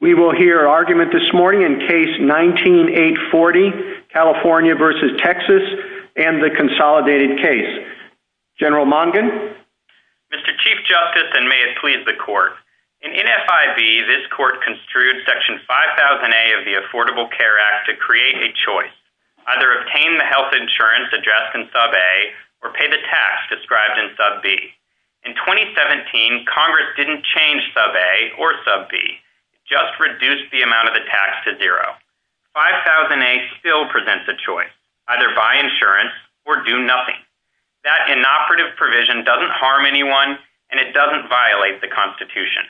We will hear argument this morning in case 19-840, California v. Texas, and the Consolidated Case. General Mondin? Mr. Chief Justice, and may it please the Court, in NFIB, this Court construed Section 5000A of the Affordable Care Act to create a choice to either obtain the health insurance addressed in Sub A or pay the tax described in Sub B. In 2017, Congress didn't change Sub A or Sub B, just reduced the amount of the tax to zero. 5000A still presents a choice, either buy insurance or do nothing. That inoperative provision doesn't harm anyone, and it doesn't violate the Constitution.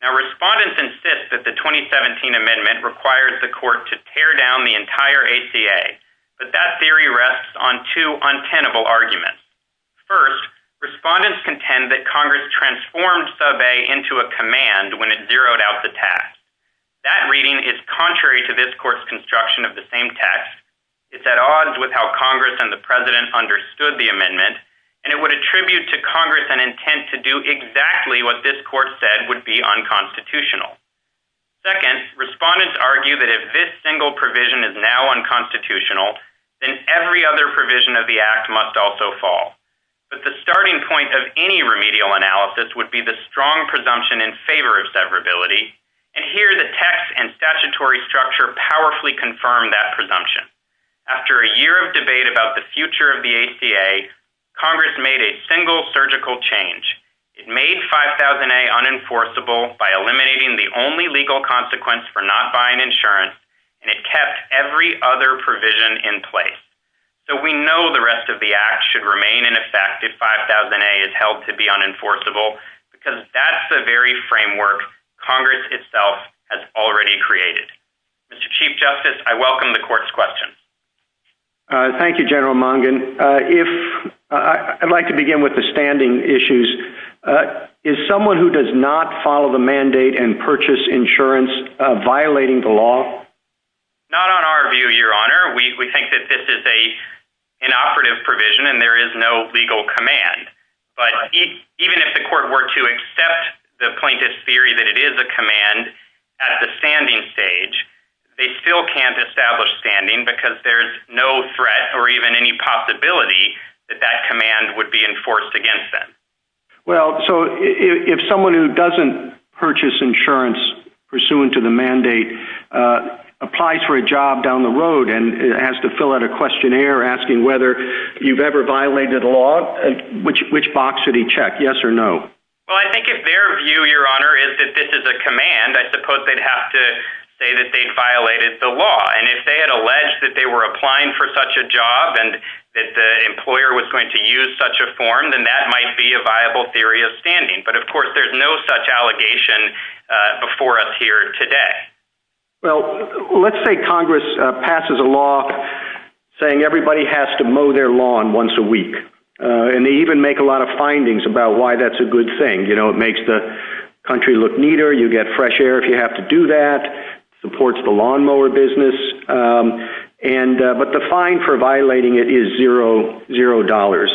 Now, respondents insist that the 2017 amendment requires the Court to tear down the entire ACA, but that theory rests on two untenable arguments. First, respondents contend that Congress transformed Sub A into a command when it zeroed out the tax. That reading is contrary to this Court's construction of the same text. It's at odds with how Congress and the President understood the amendment, and it would attribute to Congress an intent to do exactly what this Court said would be unconstitutional. Second, respondents argue that if this single provision is now unconstitutional, then every other provision of the Act must also fall. But the starting point of any remedial analysis would be the strong presumption in favor of severability, and here the text and statutory structure powerfully confirm that presumption. After a year of debate about the future of the ACA, Congress made a single surgical change. It made 5000A unenforceable by eliminating the only legal consequence for not buying insurance, and it kept every other provision in place. So we know the rest of the Act should remain in effect if 5000A is held to be unenforceable, because that's the very framework Congress itself has already created. Mr. Chief Justice, I welcome the Court's questions. Thank you, General Mungin. I'd like to begin with the standing issues. Is someone who does not follow the mandate and purchase insurance violating the law? Not on our view, Your Honor. We think that this is an inoperative provision and there is no legal command. But even if the Court were to accept the plaintiff's theory that it is a command at the standing stage, they still can't establish standing because there's no threat or even any possibility that that command would be enforced against them. Well, so if someone who doesn't purchase insurance pursuant to the mandate applies for a job down the road and has to fill out a questionnaire asking whether you've ever violated the law, which box should he check, yes or no? Well, I think if their view, Your Honor, is that this is a command, I suppose they'd have to say that they violated the law. And if they had alleged that they were applying for such a job and that the employer was going to use such a form, then that might be a viable theory of standing. But, of course, there's no such allegation before us here today. Well, let's say Congress passes a law saying everybody has to mow their lawn once a week. And they even make a lot of findings about why that's a good thing. You know, it makes the country look neater, you get fresh air if you have to do that, supports the lawnmower business. But the fine for violating it is zero dollars.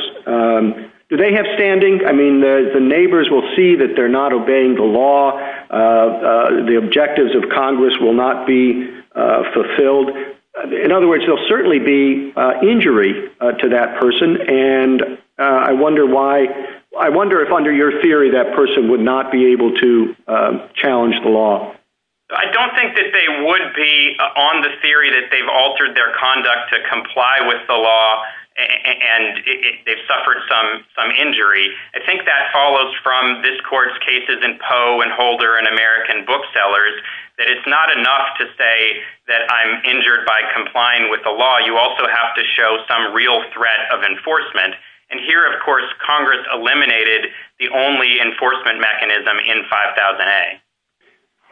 Do they have standing? I mean, the neighbors will see that they're not obeying the law. The objectives of Congress will not be fulfilled. In other words, there will certainly be injury to that person. And I wonder if under your theory that person would not be able to challenge the law. I don't think that they would be on the theory that they've altered their conduct to comply with the law and it suffered some injury. I think that follows from this court's cases in Poe and Holder and American Booksellers, that it's not enough to say that I'm injured by complying with the law. You also have to show some real threat of enforcement. And here, of course, Congress eliminated the only enforcement mechanism in 5000A.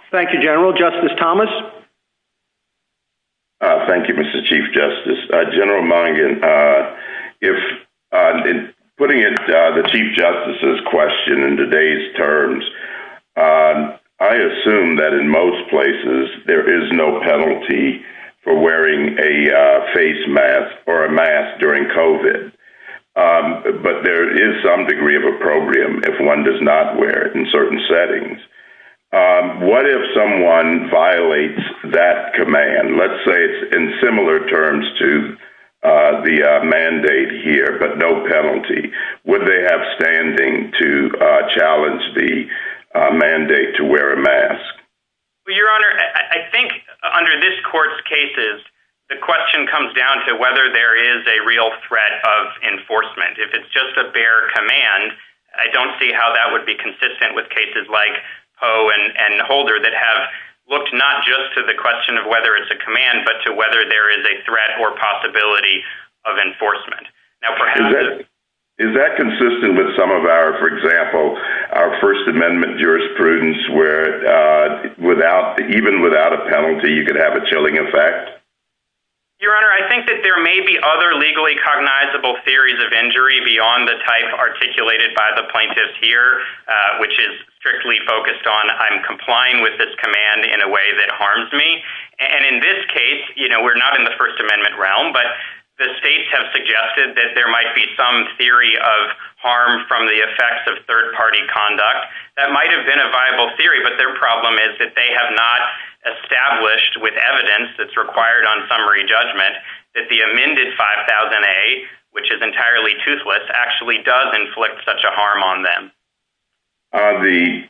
Thank you, General. Justice Thomas? Thank you, Mr. Chief Justice. General Mungin, putting it to the Chief Justice's question in today's terms, I assume that in most places there is no penalty for wearing a face mask or a mask during COVID. But there is some degree of opprobrium if one does not wear it in certain settings. What if someone violates that command? Let's say it's in similar terms to the mandate here, but no penalty. Would they have standing to challenge the mandate to wear a mask? Your Honor, I think under this court's cases, the question comes down to whether there is a real threat of enforcement. If it's just a bare command, I don't see how that would be consistent with cases like Poe and Holder that have looked not just to the question of whether it's a command, but to whether there is a threat or possibility of enforcement. Is that consistent with some of our, for example, our First Amendment jurisprudence, where even without a penalty you could have a chilling effect? Your Honor, I think that there may be other legally cognizable theories of injury beyond the type articulated by the plaintiff here, which is strictly focused on I'm complying with this command in a way that harms me. And in this case, you know, we're not in the First Amendment realm, but the state has suggested that there might be some theory of harm from the effects of third-party conduct that might have been a viable theory, but their problem is that they have not established with evidence that's required on summary judgment that the amended 5000A, which is entirely toothless, actually does inflict such a harm on them.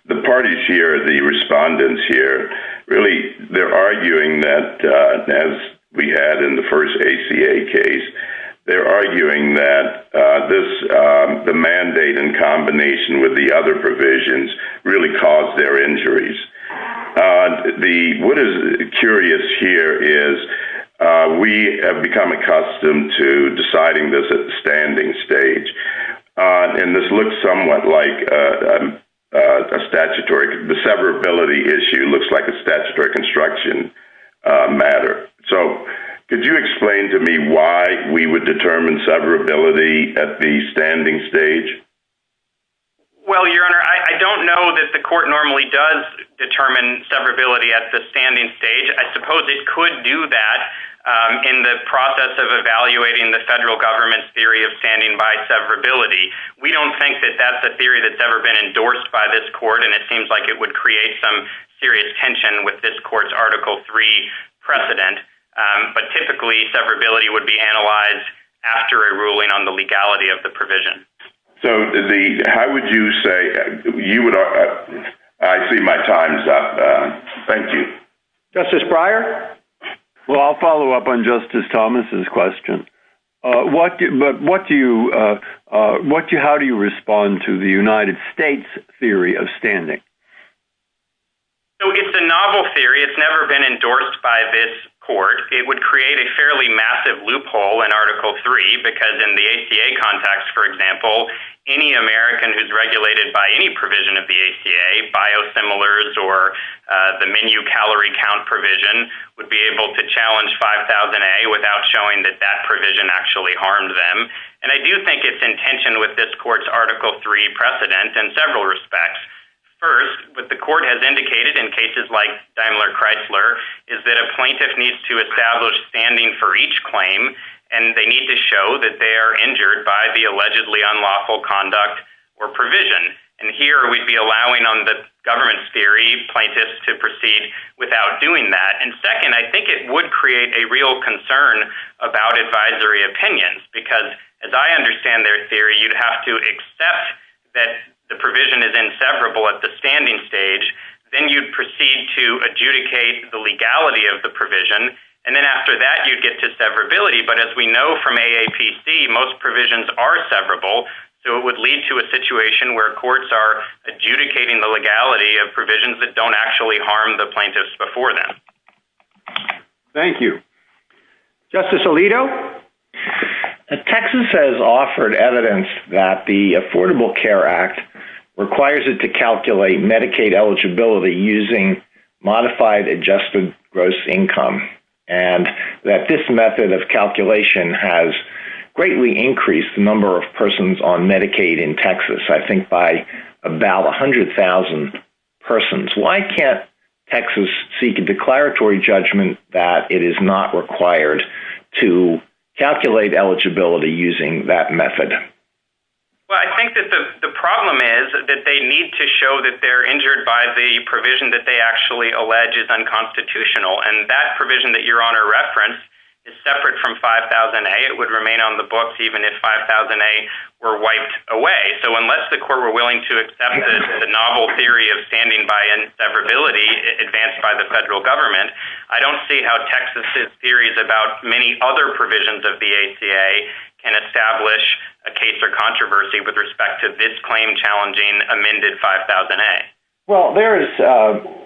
The parties here, the respondents here, really they're arguing that, as we had in the first ACA case, they're arguing that the mandate in combination with the other provisions really caused their injuries. What is curious here is we have become accustomed to deciding this at the standing stage, and this looks somewhat like a statutory severability issue, looks like a statutory construction matter. So could you explain to me why we would determine severability at the standing stage? Well, Your Honor, I don't know that the court normally does determine severability at the standing stage. I suppose it could do that in the process of evaluating the federal government's theory of standing by severability. We don't think that that's a theory that's ever been endorsed by this court, and it seems like it would create some serious tension with this court's Article III precedent. But typically, severability would be analyzed after a ruling on the legality of the provision. So how would you say – I see my time is up. Thank you. Justice Breyer? Well, I'll follow up on Justice Thomas's question. But how do you respond to the United States' theory of standing? So it's a novel theory. It's never been endorsed by this court. It would create a fairly massive loophole in Article III because in the ACA context, for example, any American who's regulated by any provision of the ACA, biosimilars or the menu calorie count provision, would be able to challenge 5000A without showing that that provision actually harmed them. And I do think it's in tension with this court's Article III precedent in several respects. First, what the court has indicated in cases like Daimler-Chrysler is that a plaintiff needs to establish standing for each claim, and they need to show that they are injured by the allegedly unlawful conduct or provision. And here we'd be allowing on the government's theory, plaintiffs to proceed without doing that. And second, I think it would create a real concern about advisory opinions because, as I understand their theory, you'd have to accept that the provision is inseparable at the standing stage. Then you'd proceed to adjudicate the legality of the provision. And then after that, you'd get to severability. But as we know from AAPC, most provisions are severable. So it would lead to a situation where courts are adjudicating the legality of provisions that don't actually harm the plaintiffs before then. Thank you. Justice Alito? Texas has offered evidence that the Affordable Care Act requires it to calculate Medicaid eligibility using modified adjusted gross income, and that this method of calculation has greatly increased the number of persons on Medicaid in Texas. I think by about 100,000 persons. Why can't Texas seek a declaratory judgment that it is not required to calculate eligibility using that method? Well, I think that the problem is that they need to show that they're injured by the provision that they actually allege is unconstitutional. And that provision that Your Honor referenced is separate from 5000A. It would remain on the books even if 5000A were wiped away. So unless the court were willing to accept the novel theory of standing by and severability advanced by the federal government, I don't see how Texas' theories about many other provisions of BACA can establish a case or controversy with respect to this claim challenging amended 5000A. Well, there is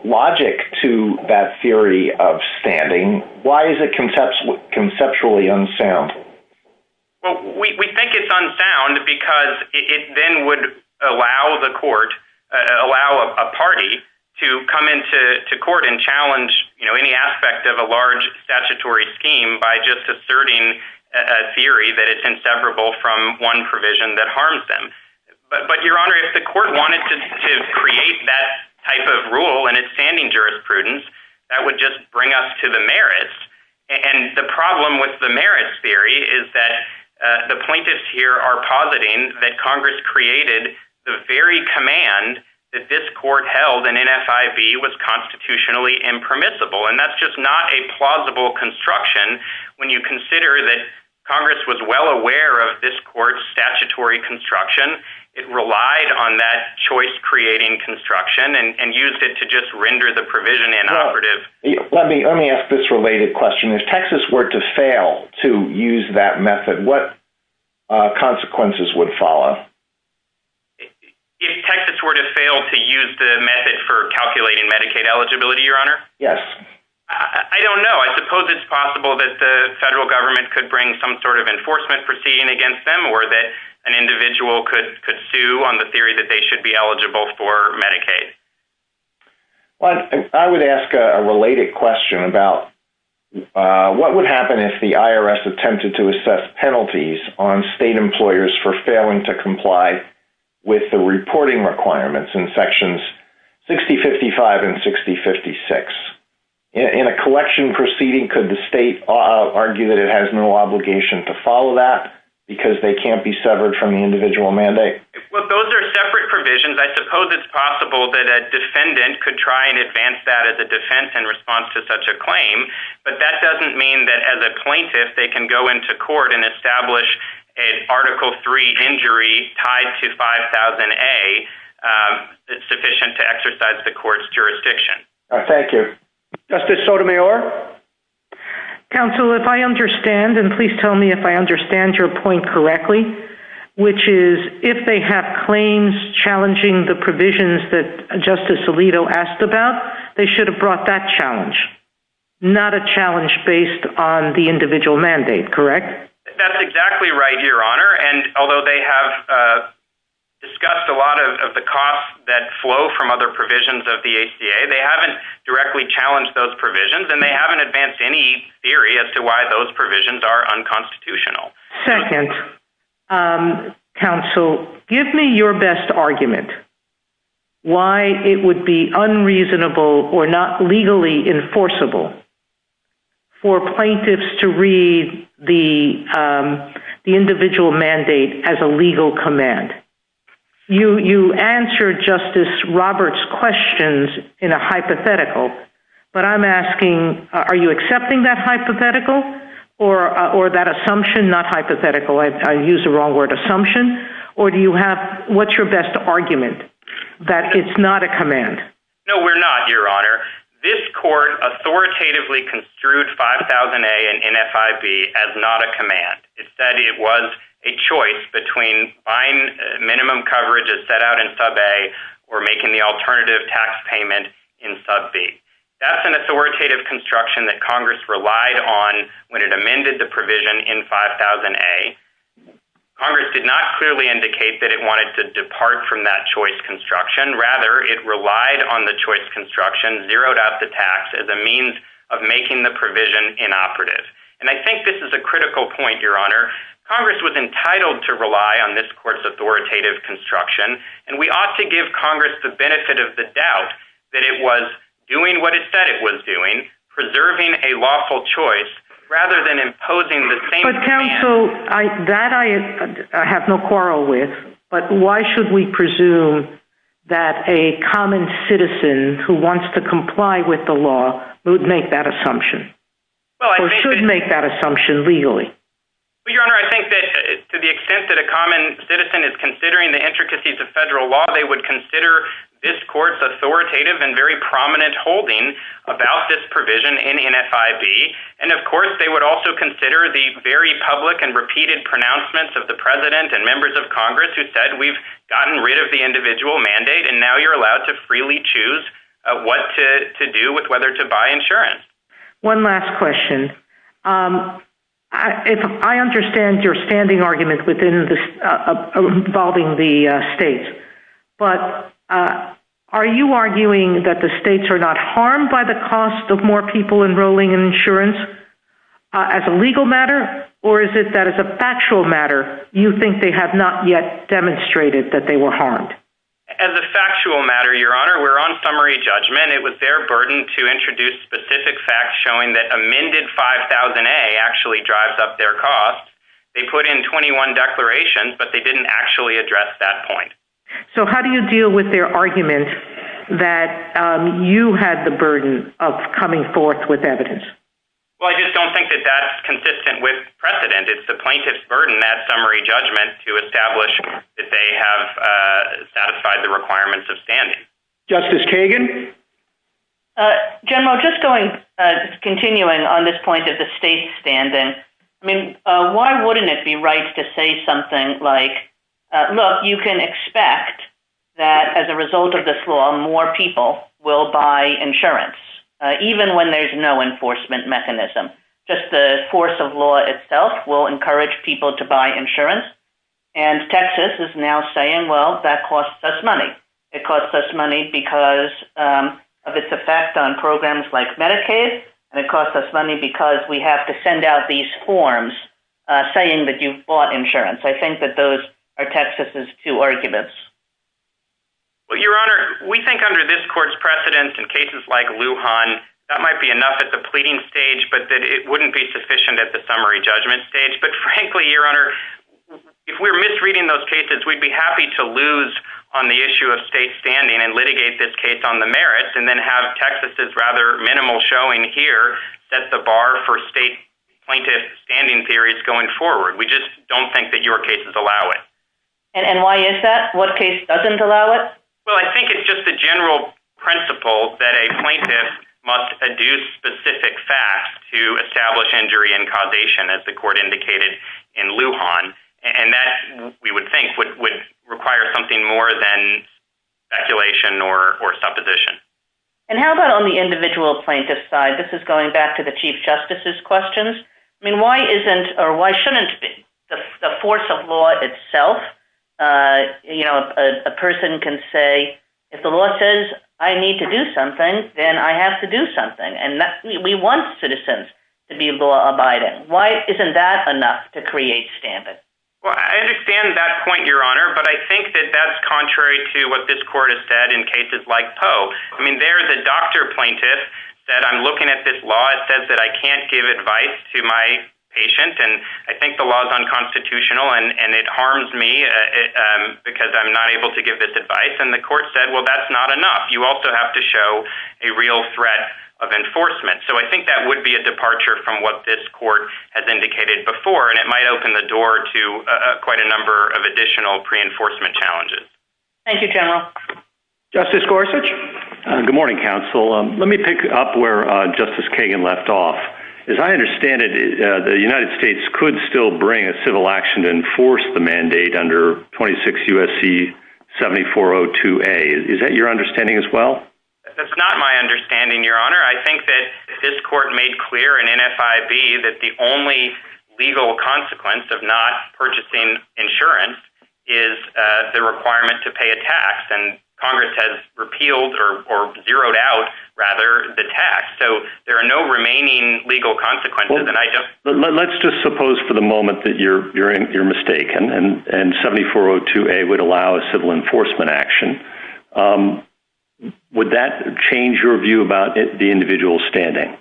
logic to that theory of standing. Why is it conceptually unsound? Well, we think it's unsound because it then would allow a party to come into court and challenge any aspect of a large statutory scheme by just asserting a theory that it's inseparable from one provision that harms them. But Your Honor, if the court wanted to create that type of rule in its standing jurisprudence, that would just bring us to the merits. And the problem with the merits theory is that the plaintiffs here are positing that Congress created the very command that this court held in NFIB was constitutionally impermissible. And that's just not a plausible construction when you consider that Congress was well aware of this court's statutory construction. It relied on that choice-creating construction and used it to just render the provision inoperative. Let me ask this related question. If Texas were to fail to use that method, what consequences would follow? If Texas were to fail to use the method for calculating Medicaid eligibility, Your Honor? Yes. I don't know. I suppose it's possible that the federal government could bring some sort of enforcement proceeding against them or that an individual could sue on the theory that they should be eligible for Medicaid. I would ask a related question about what would happen if the IRS attempted to assess penalties on state employers for failing to comply with the reporting requirements in Sections 6055 and 6056. In a collection proceeding, could the state argue that it has no obligation to follow that because they can't be severed from the individual mandate? Those are separate provisions. I suppose it's possible that a defendant could try and advance that as a defense in response to such a claim, but that doesn't mean that as a plaintiff they can go into court and establish an Article III injury tied to 5000A that's sufficient to exercise the court's jurisdiction. Thank you. Justice Sotomayor? Counsel, if I understand, and please tell me if I understand your point correctly, which is if they have claims challenging the provisions that Justice Alito asked about, they should have brought that challenge, not a challenge based on the individual mandate, correct? That's exactly right, Your Honor. And although they have discussed a lot of the costs that flow from other provisions of the ACA, they haven't directly challenged those provisions and they haven't advanced any theory as to why those provisions are unconstitutional. Second, counsel, give me your best argument why it would be unreasonable or not legally enforceable for plaintiffs to read the individual mandate as a legal command. You answered Justice Roberts' questions in a hypothetical, but I'm asking, are you accepting that hypothetical or that assumption, not hypothetical, I used the wrong word, assumption, or do you have, what's your best argument that it's not a command? No, we're not, Your Honor. This court authoritatively construed 5000A and NFIB as not a command. Instead, it was a choice between buying minimum coverage as set out in sub-A or making the alternative tax payment in sub-B. That's an authoritative construction that Congress relied on when it amended the provision in 5000A. Congress did not clearly indicate that it wanted to depart from that choice construction. Rather, it relied on the choice construction, zeroed out the tax as a means of making the provision inoperative. And I think this is a critical point, Your Honor. Congress was entitled to rely on this court's authoritative construction, and we ought to give Congress the benefit of the doubt that it was doing what it said it was doing, preserving a lawful choice, rather than imposing the same... But, counsel, that I have no quarrel with, but why should we presume that a common citizen who wants to comply with the law would make that assumption? Or should make that assumption legally? Your Honor, I think that to the extent that a common citizen is considering the intricacies of federal law, they would consider this court's authoritative and very prominent holding about this provision in NFIB. And, of course, they would also consider the very public and repeated pronouncements of the President and members of Congress who said, we've gotten rid of the individual mandate, and now you're allowed to freely choose what to do with whether to buy insurance. One last question. I understand your standing argument involving the states, but are you arguing that the states are not harmed by the cost of more people enrolling in insurance as a legal matter? Or is it that as a factual matter, you think they have not yet demonstrated that they were harmed? As a factual matter, Your Honor, we're on summary judgment. It was their burden to introduce specific facts showing that amended 5000A actually drives up their costs. They put in 21 declarations, but they didn't actually address that point. So, how do you deal with their argument that you have the burden of coming forth with evidence? Well, I just don't think that that's consistent with precedent. It's the plaintiff's burden, that summary judgment, to establish that they have satisfied the requirements of standing. Justice Kagan? General, just continuing on this point of the state's standing, I mean, why wouldn't it be right to say something like, look, you can expect that as a result of this law, more people will buy insurance, even when there's no enforcement mechanism. Just the force of law itself will encourage people to buy insurance, and Texas is now saying, well, that costs us money. It costs us money because of its effect on programs like Medicaid, and it costs us money because we have to send out these forms saying that you've bought insurance. I think that those are Texas's two arguments. Well, Your Honor, we think under this court's precedence, in cases like Lujan, that might be enough at the pleading stage, but that it wouldn't be sufficient at the summary judgment stage. But frankly, Your Honor, if we're misreading those cases, we'd be happy to lose on the issue of state standing and litigate this case on the merits, and then have Texas's rather minimal showing here set the bar for state plaintiff standing theories going forward. We just don't think that your cases allow it. And why is that? What case doesn't allow it? Well, I think it's just the general principle that a plaintiff must adduce specific facts to establish injury and causation, as the court indicated in Lujan, and that, we would think, would require something more than speculation or supposition. And how about on the individual plaintiff's side? This is going back to the Chief Justice's questions. I mean, why shouldn't the force of law itself, you know, a person can say, if the law says I need to do something, then I have to do something. And we want citizens to be law-abiding. Why isn't that enough to create standing? Well, I understand that point, Your Honor, but I think that that's contrary to what this court has said in cases like Poe. I mean, there's a doctor plaintiff that I'm looking at this law. It says that I can't give advice to my patient. And I think the law is unconstitutional, and it harms me because I'm not able to give this advice. And the court said, well, that's not enough. You also have to show a real threat of enforcement. So I think that would be a departure from what this court has indicated before, and it might open the door to quite a number of additional pre-enforcement challenges. Thank you, General. Justice Gorsuch. Good morning, Counsel. Let me pick up where Justice Kagan left off. As I understand it, the United States could still bring a civil action to enforce the mandate under 26 U.S.C. 7402A. Is that your understanding as well? That's not my understanding, Your Honor. Your Honor, I think that this court made clear in NFIB that the only legal consequence of not purchasing insurance is the requirement to pay a tax. And Congress has repealed or zeroed out, rather, the tax. So there are no remaining legal consequences that I don't – Let's just suppose for the moment that you're mistaken and 7402A would allow a civil enforcement action. Would that change your view about the individual's standing?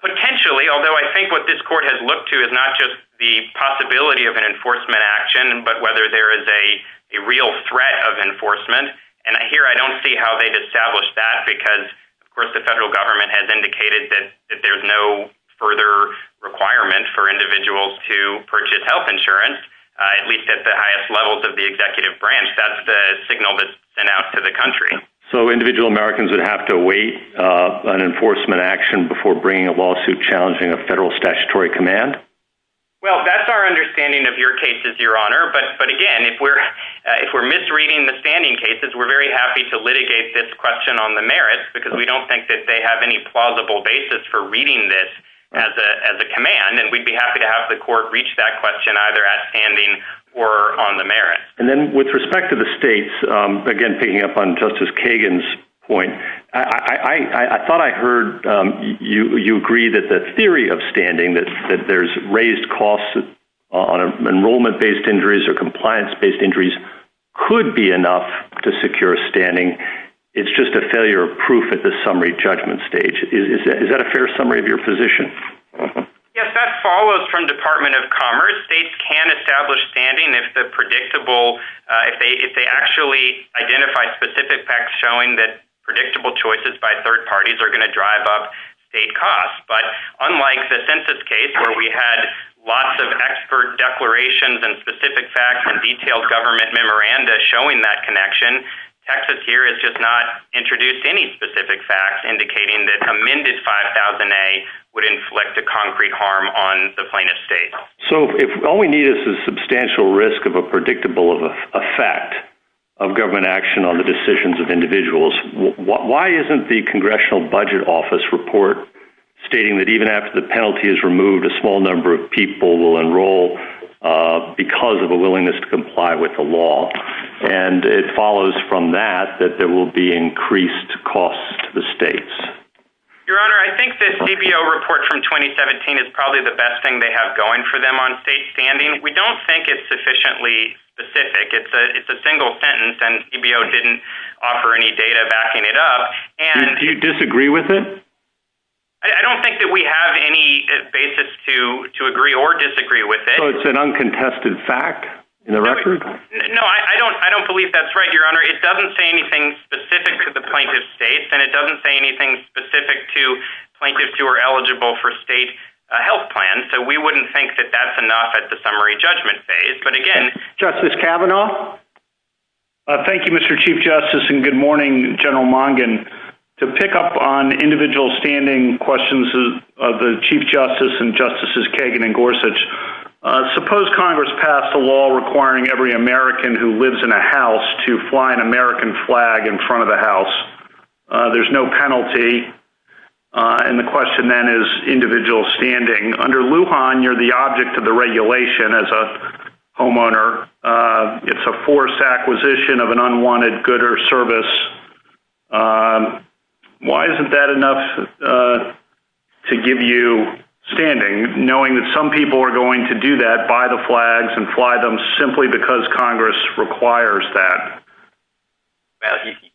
Potentially, although I think what this court has looked to is not just the possibility of an enforcement action, but whether there is a real threat of enforcement. And here I don't see how they've established that because, of course, the federal government has indicated that there's no further requirement for individuals to purchase health insurance, at least at the highest levels of the executive branch. That's the signal that's sent out to the country. So individual Americans would have to await an enforcement action before bringing a lawsuit challenging a federal statutory command? Well, that's our understanding of your cases, Your Honor. But, again, if we're misreading the standing cases, we're very happy to litigate this question on the merits because we don't think that they have any plausible basis for reading this as a command. And we'd be happy to have the court reach that question either at standing or on the merits. And then with respect to the states, again, picking up on Justice Kagan's point, I thought I heard you agree that the theory of standing, that there's raised costs on enrollment-based injuries or compliance-based injuries could be enough to secure standing. It's just a failure of proof at the summary judgment stage. Is that a fair summary of your position? Yes, that follows from Department of Commerce. States can establish standing if they actually identify specific facts showing that predictable choices by third parties are going to drive up state costs. But unlike the census case where we had lots of expert declarations and specific facts and detailed government memoranda showing that connection, Texas here has just not introduced any specific facts indicating that amended 5000A would inflict a concrete harm on the plaintiff's state. So if all we need is a substantial risk of a predictable effect of government action on the decisions of individuals, why isn't the Congressional Budget Office report stating that even after the penalty is removed, a small number of people will enroll because of a willingness to comply with the law? And it follows from that that there will be increased costs to the states. Your Honor, I think this CBO report from 2017 is probably the best thing they have going for them on state standing. We don't think it's sufficiently specific. It's a single sentence, and CBO didn't offer any data backing it up. Do you disagree with it? I don't think that we have any basis to agree or disagree with it. So it's an uncontested fact in the record? No, I don't believe that's right, Your Honor. It doesn't say anything specific to the plaintiff's states, and it doesn't say anything specific to plaintiffs who are eligible for state health plans, so we wouldn't think that that's enough at the summary judgment phase. Justice Kavanaugh? Thank you, Mr. Chief Justice, and good morning, General Mongin. To pick up on individual standing questions of the Chief Justice and Justices Kagan and Gorsuch, suppose Congress passed a law requiring every American who lives in a house to fly an American flag in front of the house. There's no penalty, and the question then is individual standing. Under Lujan, you're the object of the regulation as a homeowner. It's a forced acquisition of an unwanted good or service. Why isn't that enough to give you standing, knowing that some people are going to do that, buy the flags and fly them simply because Congress requires that?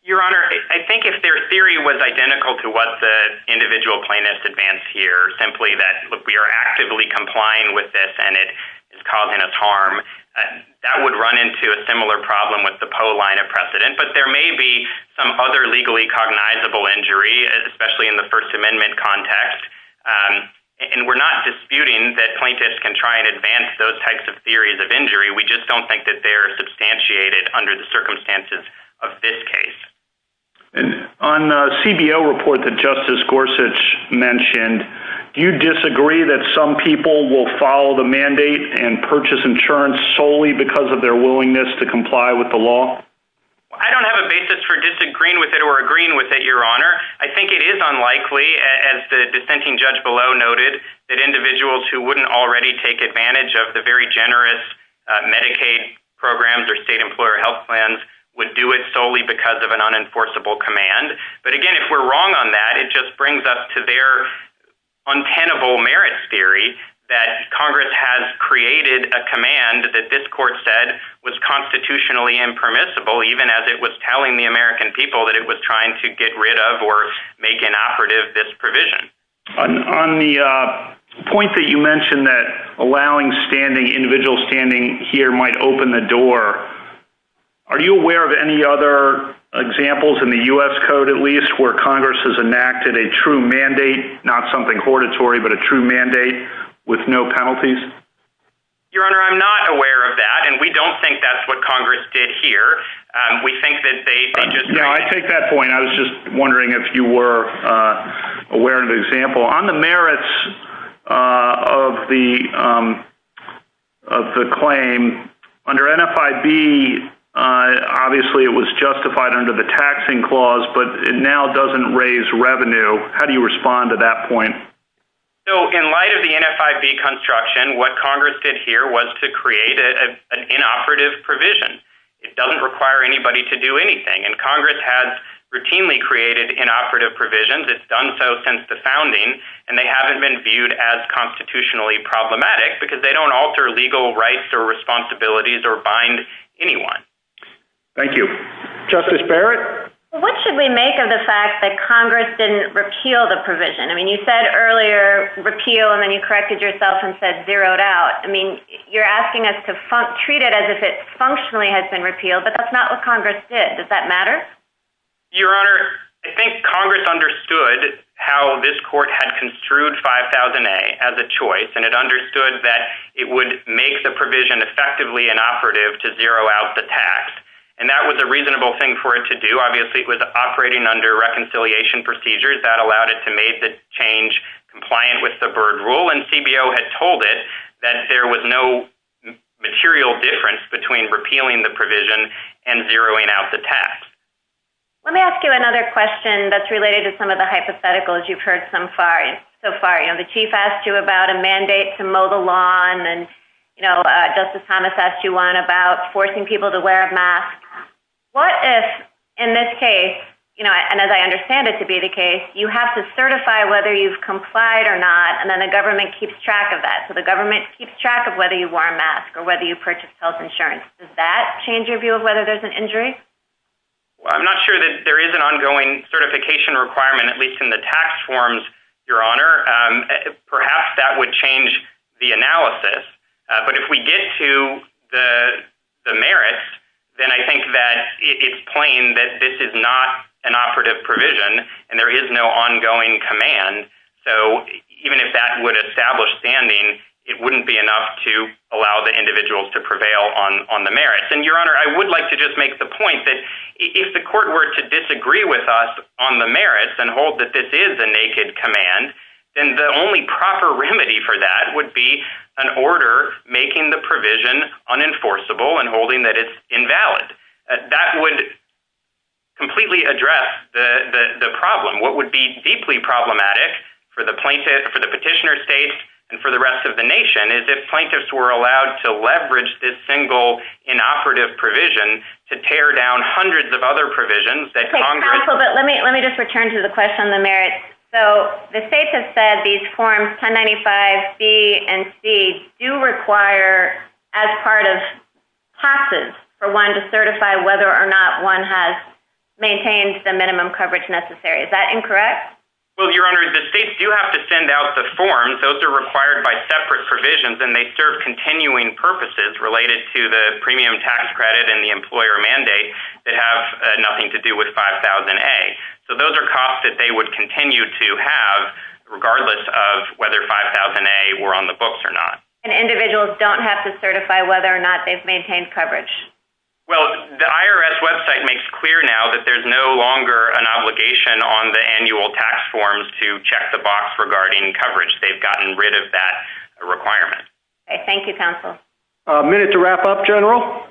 Your Honor, I think if their theory was identical to what the individual plaintiffs advance here, simply that we are actively complying with this and it is causing us harm, that would run into a similar problem with the POA line of precedent, but there may be some other legally cognizable injury, especially in the First Amendment context, and we're not disputing that plaintiffs can try and advance those types of theories of injury. We just don't think that they're substantiated under the circumstances of this case. On the CBO report that Justice Gorsuch mentioned, do you disagree that some people will follow the mandate and purchase insurance solely because of their willingness to comply with the law? I don't have a basis for disagreeing with it or agreeing with it, Your Honor. I think it is unlikely, as the dissenting judge below noted, that individuals who wouldn't already take advantage of the very generous Medicaid programs or state employer health plans would do it solely because of an unenforceable command. But again, if we're wrong on that, it just brings us to their untenable merits theory that Congress has created a command that this court said was constitutionally impermissible, even as it was telling the American people that it was trying to get rid of or make inoperative this provision. On the point that you mentioned that allowing individual standing here might open the door, are you aware of any other examples in the U.S. Code, at least, where Congress has enacted a true mandate, not something hortatory, but a true mandate with no penalties? Your Honor, I'm not aware of that, and we don't think that's what Congress did here. I take that point. I was just wondering if you were aware of an example. On the merits of the claim, under NFIB, obviously it was justified under the taxing clause, but it now doesn't raise revenue. How do you respond to that point? In light of the NFIB construction, what Congress did here was to create an inoperative provision. It doesn't require anybody to do anything, and Congress has routinely created inoperative provisions. It's done so since the founding, and they haven't been viewed as constitutionally problematic because they don't alter legal rights or responsibilities or bind anyone. Thank you. Justice Barrett? What should we make of the fact that Congress didn't repeal the provision? You said earlier repeal, and then you corrected yourself and said zeroed out. You're asking us to treat it as if it functionally has been repealed, but that's not what Congress did. Does that matter? Your Honor, I think Congress understood how this court had construed 5000A as a choice, and it understood that it would make the provision effectively inoperative to zero out the tax. And that was a reasonable thing for it to do. Obviously, it was operating under reconciliation procedures. That allowed it to make the change compliant with the Byrd Rule, and CBO had told it that there was no material difference between repealing the provision and zeroing out the tax. Let me ask you another question that's related to some of the hypotheticals you've heard so far. The Chief asked you about a mandate to mow the lawn, and then Justice Thomas asked you one about forcing people to wear a mask. What if, in this case, and as I understand it to be the case, you have to certify whether you've complied or not, and then the government keeps track of that? So the government keeps track of whether you wore a mask or whether you purchased health insurance. Does that change your view of whether there's an injury? I'm not sure that there is an ongoing certification requirement, at least in the tax forms, Your Honor. Perhaps that would change the analysis. But if we get to the merits, then I think that it's plain that this is not an operative provision, and there is no ongoing command. So even if that would establish standing, it wouldn't be enough to allow the individuals to prevail on the merits. And, Your Honor, I would like to just make the point that if the court were to disagree with us on the merits and hold that this is a naked command, then the only proper remedy for that would be an order making the provision unenforceable and holding that it's invalid. That would completely address the problem. What would be deeply problematic for the plaintiff, for the petitioner state, and for the rest of the nation is if plaintiffs were allowed to leverage this single inoperative provision to tear down hundreds of other provisions that Congress Let me just return to the question on the merits. So the states have said these Forms 1095B and C do require, as part of passes, for one to certify whether or not one has maintained the minimum coverage necessary. Is that incorrect? Well, Your Honor, the states do have to send out the forms. Those are required by separate provisions, and they serve continuing purposes related to the premium tax credit and the employer mandate to have nothing to do with 5000A. So those are costs that they would continue to have regardless of whether 5000A were on the books or not. And individuals don't have to certify whether or not they've maintained coverage? Well, the IRS website makes clear now that there's no longer an obligation on the annual tax forms to check the box regarding coverage. They've gotten rid of that requirement. Okay. Thank you, counsel. A minute to wrap up, General.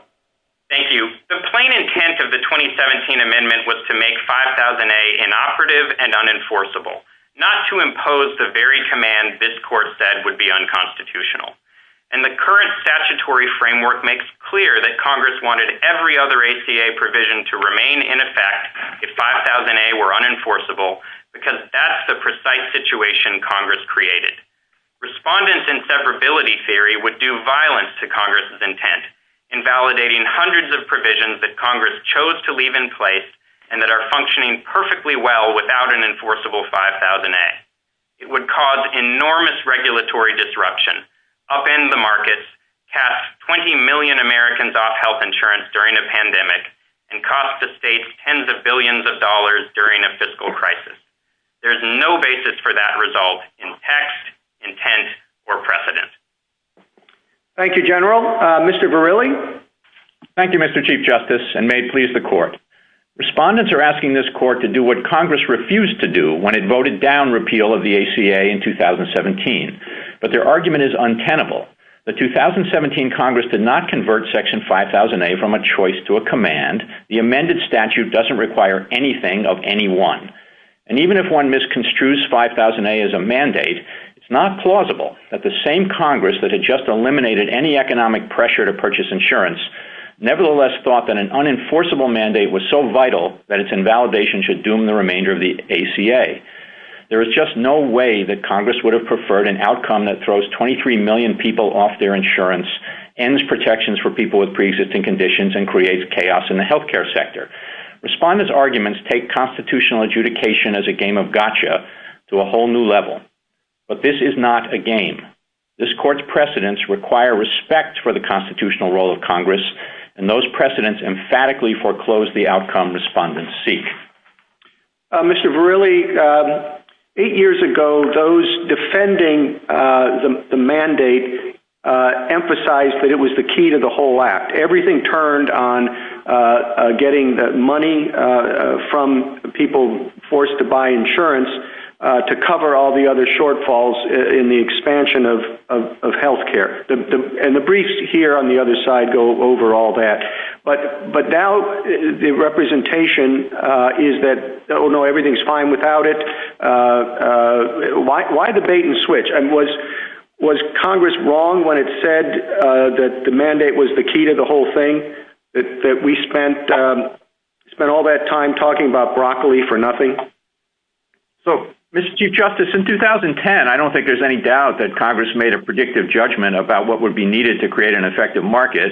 Thank you. The plain intent of the 2017 amendment was to make 5000A inoperative and unenforceable, not to impose the very command this Court said would be unconstitutional. And the current statutory framework makes clear that Congress wanted every other ACA provision to remain in effect if 5000A were unenforceable because that's the precise situation Congress created. Respondents' inseparability theory would do violence to Congress's intent, invalidating hundreds of provisions that Congress chose to leave in place and that are functioning perfectly well without an enforceable 5000A. It would cause enormous regulatory disruption, upend the markets, cap 20 million Americans off health insurance during a pandemic, and cost the states tens of billions of dollars during a fiscal crisis. There's no basis for that result in text, intent, or precedent. Thank you, General. Mr. Verrilli? Thank you, Mr. Chief Justice, and may it please the Court. Respondents are asking this Court to do what Congress refused to do when it voted down repeal of the ACA in 2017. But their argument is untenable. The 2017 Congress did not convert Section 5000A from a choice to a command. The amended statute doesn't require anything of any one. And even if one misconstrues 5000A as a mandate, it's not plausible that the same Congress that had just eliminated any economic pressure to purchase insurance nevertheless thought that an unenforceable mandate was so vital that its invalidation should doom the remainder of the ACA. There is just no way that Congress would have preferred an outcome that throws 23 million people off their insurance, ends protections for people with preexisting conditions, and creates chaos in the healthcare sector. Respondents' arguments take constitutional adjudication as a game of gotcha to a whole new level. But this is not a game. This Court's precedents require respect for the constitutional role of Congress, and those precedents emphatically foreclose the outcome respondents seek. Mr. Verrilli, eight years ago, those defending the mandate emphasized that it was the key to the whole act. Everything turned on getting money from people forced to buy insurance to cover all the other shortfalls in the expansion of healthcare. And the briefs here on the other side go over all that. But now the representation is that, oh, no, everything's fine without it. Why the bait and switch? And was Congress wrong when it said that the mandate was the key to the whole thing, that we spent all that time talking about broccoli for nothing? So, Mr. Chief Justice, in 2010, I don't think there's any doubt that Congress made a predictive judgment about what would be needed to create an effective market,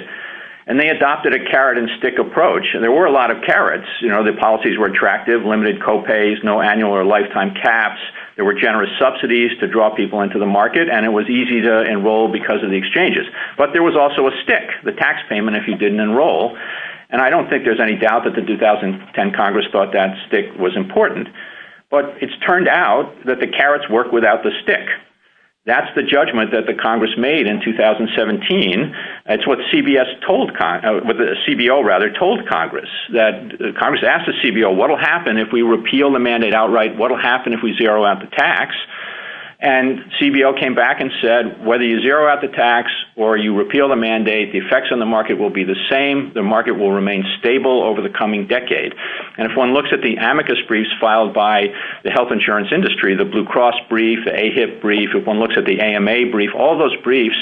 and they adopted a carrot-and-stick approach. And there were a lot of carrots. The policies were attractive, limited co-pays, no annual or lifetime caps. There were generous subsidies to draw people into the market, and it was easy to enroll because of the exchanges. But there was also a stick, the tax payment, if you didn't enroll. And I don't think there's any doubt that the 2010 Congress thought that stick was important. But it's turned out that the carrots work without the stick. That's the judgment that the Congress made in 2017. That's what the CBO told Congress. Congress asked the CBO, what will happen if we repeal the mandate outright? What will happen if we zero out the tax? And CBO came back and said, whether you zero out the tax or you repeal the mandate, the effects on the market will be the same. The market will remain stable over the coming decade. And if one looks at the amicus briefs filed by the health insurance industry, the Blue Cross brief, the AHIP brief, if one looks at the AMA brief, all those briefs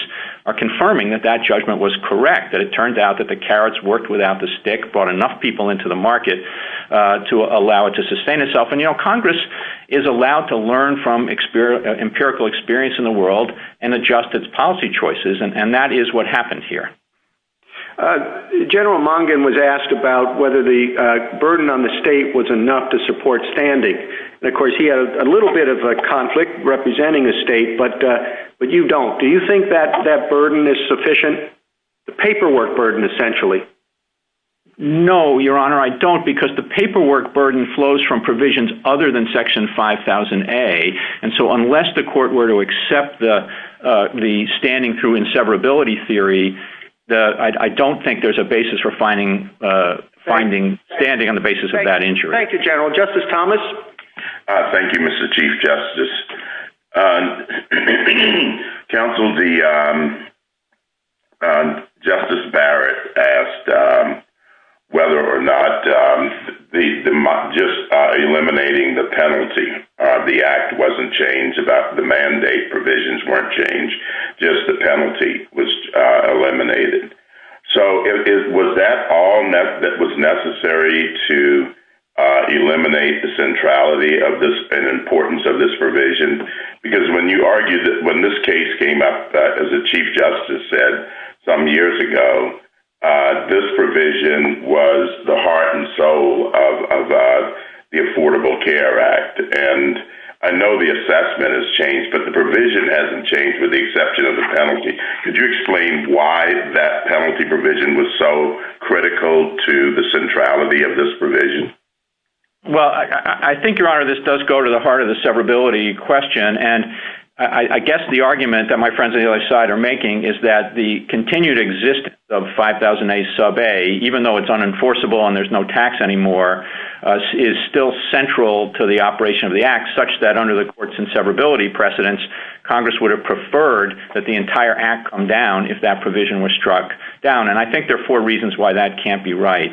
are confirming that that judgment was correct, that it turned out that the carrots worked without the stick, brought enough people into the market to allow it to sustain itself. And, you know, Congress is allowed to learn from empirical experience in the world and adjust its policy choices, and that is what happened here. General Mungin was asked about whether the burden on the state was enough to support standing. And, of course, he had a little bit of a conflict representing the state, but you don't. Do you think that burden is sufficient? The paperwork burden, essentially. No, Your Honor, I don't, because the paperwork burden flows from provisions other than Section 5000A, and so unless the court were to accept the standing through inseverability theory, I don't think there's a basis for finding standing on the basis of that injury. Thank you, General. Justice Thomas? Thank you, Mr. Chief Justice. Counsel, Justice Barrett asked whether or not just eliminating the penalty, the act wasn't changed, the mandate provisions weren't changed, just the penalty was eliminated. So was that all that was necessary to eliminate the centrality and importance of this provision? Because when you argue that when this case came up, as the Chief Justice said, some years ago, this provision was the heart and soul of the Affordable Care Act, and I know the assessment has changed, but the provision hasn't changed with the exception of the penalty. Could you explain why that penalty provision was so critical to the centrality of this provision? Well, I think, Your Honor, this does go to the heart of the severability question, and I guess the argument that my friends on the other side are making is that the continued existence of 5000A sub A, even though it's unenforceable and there's no tax anymore, is still central to the operation of the act, such that under the courts and severability precedents, Congress would have preferred that the entire act come down if that provision was struck down, and I think there are four reasons why that can't be right.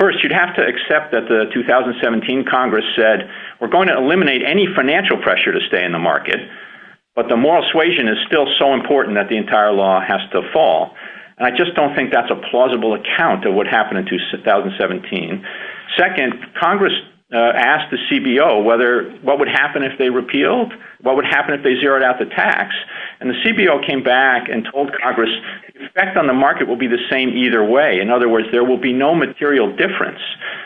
First, you'd have to accept that the 2017 Congress said, we're going to eliminate any financial pressure to stay in the market, but the moral suasion is still so important that the entire law has to fall, and I just don't think that's a plausible account of what happened in 2017. Second, Congress asked the CBO, what would happen if they repealed? What would happen if they zeroed out the tax? And the CBO came back and told Congress, the effect on the market will be the same either way. In other words, there will be no material difference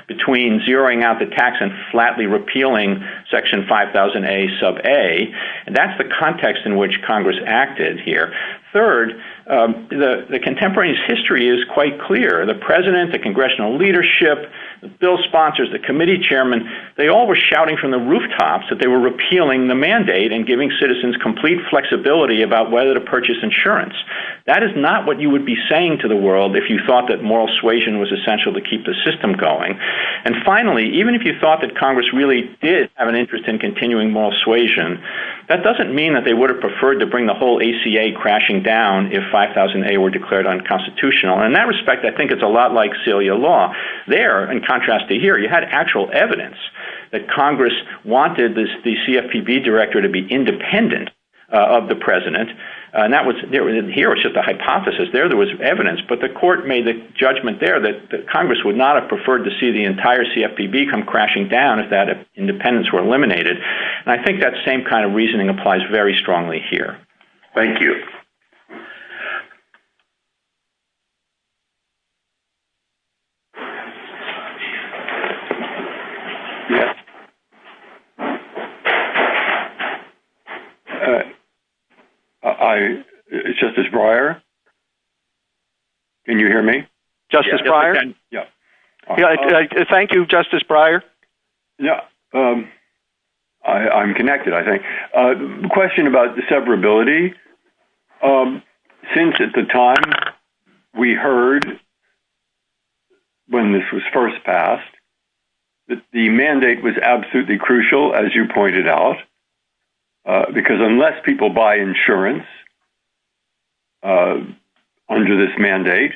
between zeroing out the tax and flatly repealing section 5000A sub A, and that's the context in which Congress acted here. Third, the contemporary's history is quite clear. The president, the congressional leadership, the bill sponsors, the committee chairman, they all were shouting from the rooftops that they were repealing the mandate and giving citizens complete flexibility about whether to purchase insurance. That is not what you would be saying to the world if you thought that moral suasion was essential to keep the system going. And finally, even if you thought that Congress really did have an interest in continuing moral suasion, that doesn't mean that they would have preferred to bring the whole ACA crashing down if 5000A were declared unconstitutional. In that respect, I think it's a lot like Celia Law. There, in contrast to here, you had actual evidence that Congress wanted the CFPB director to be independent of the president, and here was just a hypothesis. There was evidence, but the court made the judgment there that Congress would not have preferred to see the entire CFPB come crashing down if that independence were eliminated. And I think that same kind of reasoning applies very strongly here. Thank you. Justice Breyer, can you hear me? Justice Breyer? Yes. Thank you, Justice Breyer. Yes, I'm connected, I think. A question about the severability. Since at the time we heard when this was first passed that the mandate was absolutely crucial, as you pointed out, because unless people buy insurance under this mandate,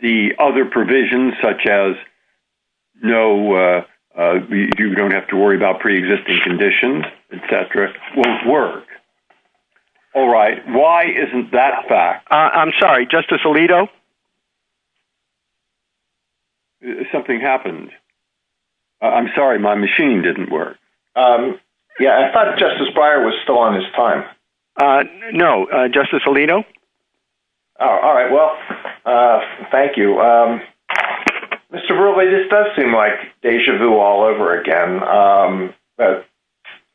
the other provisions, such as you don't have to worry about pre-existing conditions, etc., won't work. All right, why isn't that fact? I'm sorry, Justice Alito? Something happened. I'm sorry, my machine didn't work. Yeah, I thought Justice Breyer was still on his time. No, Justice Alito? All right, well, thank you. Mr. Brutley, this does seem like deja vu all over again.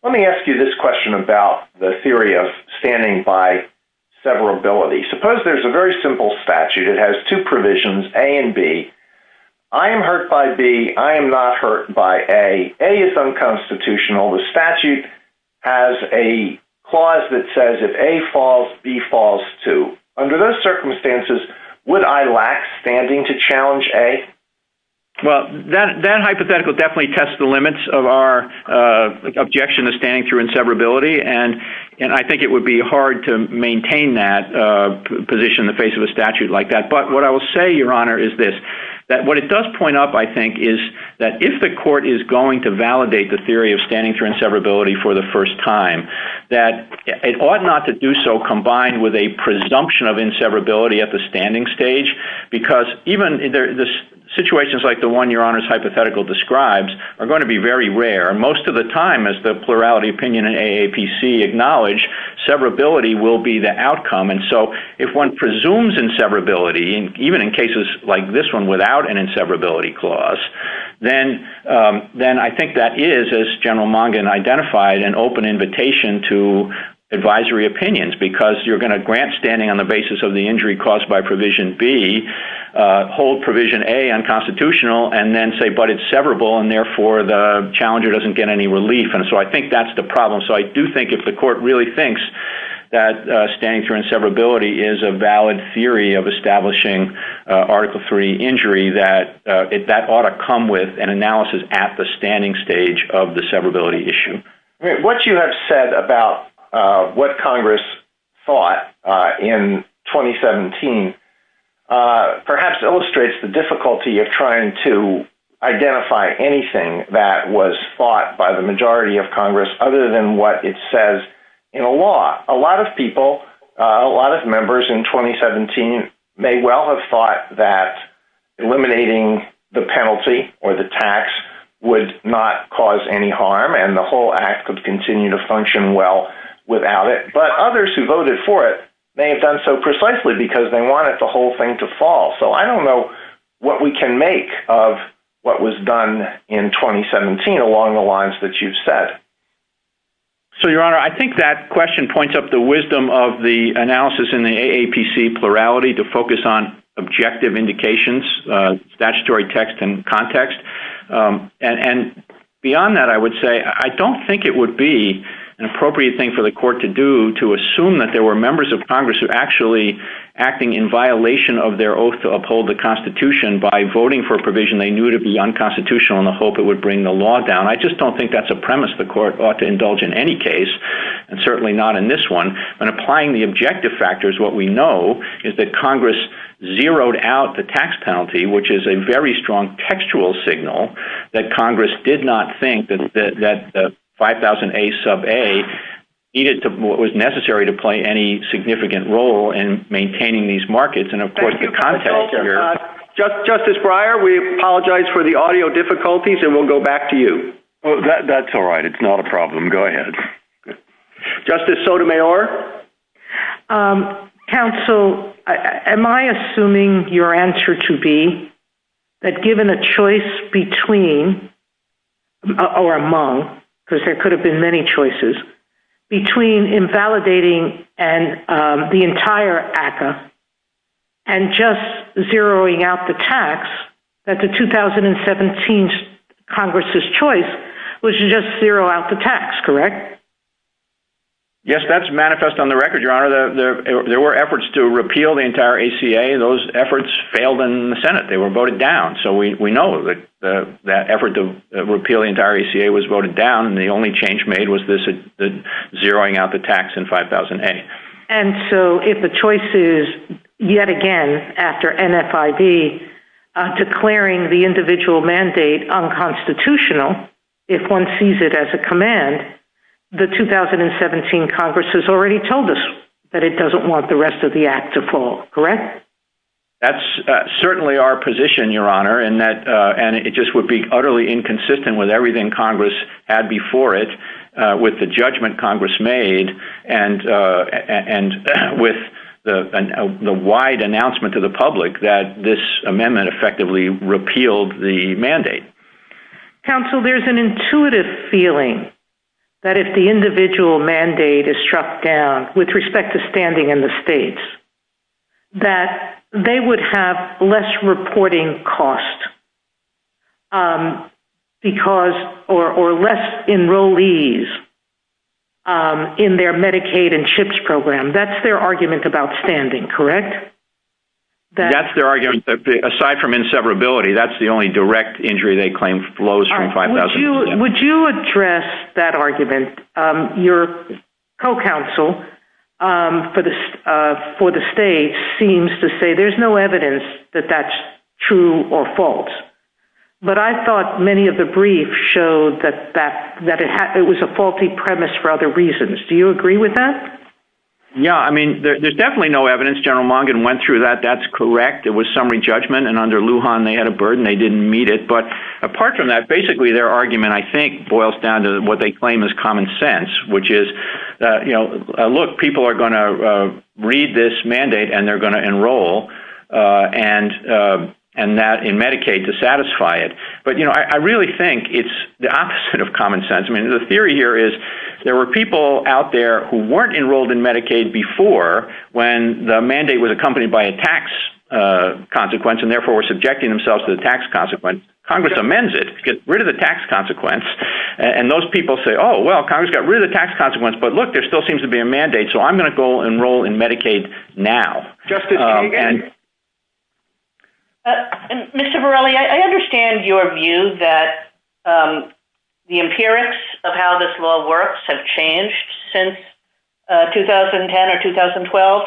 Let me ask you this question about the theory of standing by severability. Suppose there's a very simple statute. It has two provisions, A and B. I am hurt by B. I am not hurt by A. A is unconstitutional. The statute has a clause that says if A falls, B falls, too. Under those circumstances, would I lack standing to challenge A? Well, that hypothetical definitely tests the limits of our objection to standing through inseverability, and I think it would be hard to maintain that position in the face of a statute like that. But what I will say, Your Honor, is this. What it does point up, I think, is that if the court is going to validate the theory of standing through inseverability for the first time, that it ought not to do so combined with a presumption of inseverability at the standing stage, because even situations like the one Your Honor's hypothetical describes are going to be very rare. Most of the time, as the plurality opinion and AAPC acknowledge, severability will be the outcome. And so if one presumes inseverability, even in cases like this one without an inseverability clause, then I think that is, as General Mongan identified, an open invitation to advisory opinions, because you're going to grant standing on the basis of the injury caused by provision B, hold provision A unconstitutional, and then say, but it's severable, and therefore the challenger doesn't get any relief. And so I think that's the problem. So I do think if the court really thinks that standing through inseverability is a valid theory of establishing Article III injury, that that ought to come with an analysis at the standing stage of the severability issue. What you have said about what Congress thought in 2017 perhaps illustrates the difficulty of trying to identify anything that was fought by the majority of Congress other than what it says in a law. A lot of people, a lot of members in 2017 may well have thought that eliminating the penalty or the tax would not cause any harm, and the whole act would continue to function well without it. But others who voted for it may have done so precisely because they wanted the whole thing to fall. So I don't know what we can make of what was done in 2017 along the lines that you've said. So, Your Honor, I think that question points up the wisdom of the analysis in the AAPC plurality to focus on objective indications, statutory text and context. And beyond that, I would say I don't think it would be an appropriate thing for the court to do to assume that there were members of Congress who were actually acting in violation of their oath to uphold the Constitution by voting for a provision they knew to be unconstitutional in the hope it would bring the law down. I just don't think that's a premise the court ought to indulge in any case, and certainly not in this one. But applying the objective factors, what we know is that Congress zeroed out the tax penalty, which is a very strong textual signal that Congress did not think that the 5000A sub A needed to, was necessary to play any significant role in maintaining these markets and, of course, the context here. Justice Breyer, we apologize for the audio difficulties, and we'll go back to you. That's all right. It's not a problem. Go ahead. Justice Sotomayor? Counsel, am I assuming your answer to be that given a choice between or among, because there could have been many choices, between invalidating the entire ACCA and just zeroing out the tax, that the 2017 Congress's choice was to just zero out the tax, correct? Yes, that's manifest on the record, Your Honor. There were efforts to repeal the entire ACA. Those efforts failed in the Senate. They were voted down. So we know that that effort to repeal the entire ACA was voted down, and the only change made was this zeroing out the tax in 5000A. And so if the choice is, yet again, after NFID, declaring the individual mandate unconstitutional, if one sees it as a command, the 2017 Congress has already told us that it doesn't want the rest of the act to fall, correct? That's certainly our position, Your Honor, and it just would be utterly inconsistent with everything Congress had before it, with the judgment Congress made and with the wide announcement to the public that this amendment effectively repealed the mandate. Counsel, there's an intuitive feeling that if the individual mandate is struck down, with respect to standing in the states, that they would have less reporting costs or less enrollees in their Medicaid and CHIPS program. That's their argument about standing, correct? That's their argument. Aside from inseparability, that's the only direct injury they claim flows from 5000A. Would you address that argument? Your co-counsel for the states seems to say there's no evidence that that's true or false, but I thought many of the briefs showed that it was a faulty premise for other reasons. Do you agree with that? Yeah, I mean, there's definitely no evidence. General Longin went through that. That's correct. It was summary judgment, and under Lujan, they had a burden. They didn't meet it. But apart from that, basically, their argument, I think, boils down to what they claim is common sense, which is, you know, look, people are going to read this mandate and they're going to enroll and that in Medicaid to satisfy it. But, you know, I really think it's the opposite of common sense. I mean, the theory here is there were people out there who weren't enrolled in Medicaid before, when the mandate was accompanied by a tax consequence, and therefore were subjecting themselves to the tax consequence. Congress amends it to get rid of the tax consequence, and those people say, oh, well, Congress got rid of the tax consequence, but look, there still seems to be a mandate, so I'm going to go enroll in Medicaid now. Mr. Varela, I understand your view that the appearance of how this law works has changed since 2010 or 2012,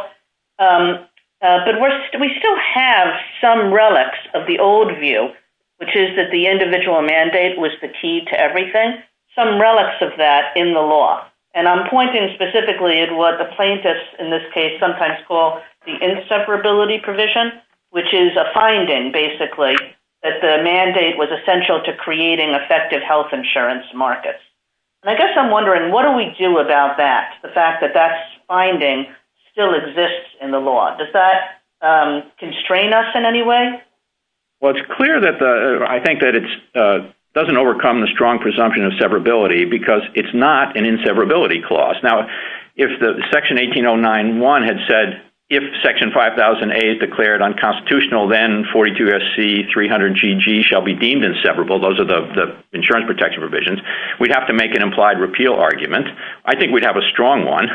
but we still have some relics of the old view, which is that the individual mandate was the key to everything, some relics of that in the law, and I'm pointing specifically at what the plaintiffs in this case sometimes call the inseparability provision, which is a finding, basically, that the mandate was essential to creating effective health insurance markets. And I guess I'm wondering, what do we do about that, the fact that that finding still exists in the law? Does that constrain us in any way? Well, it's clear that the – I think that it doesn't overcome the strong presumption of separability because it's not an inseparability clause. Now, if Section 18091 had said, if Section 5000A is declared unconstitutional, then 42SC300GG shall be deemed inseparable, those are the insurance protection provisions, we'd have to make an implied repeal argument. I think we'd have a strong one,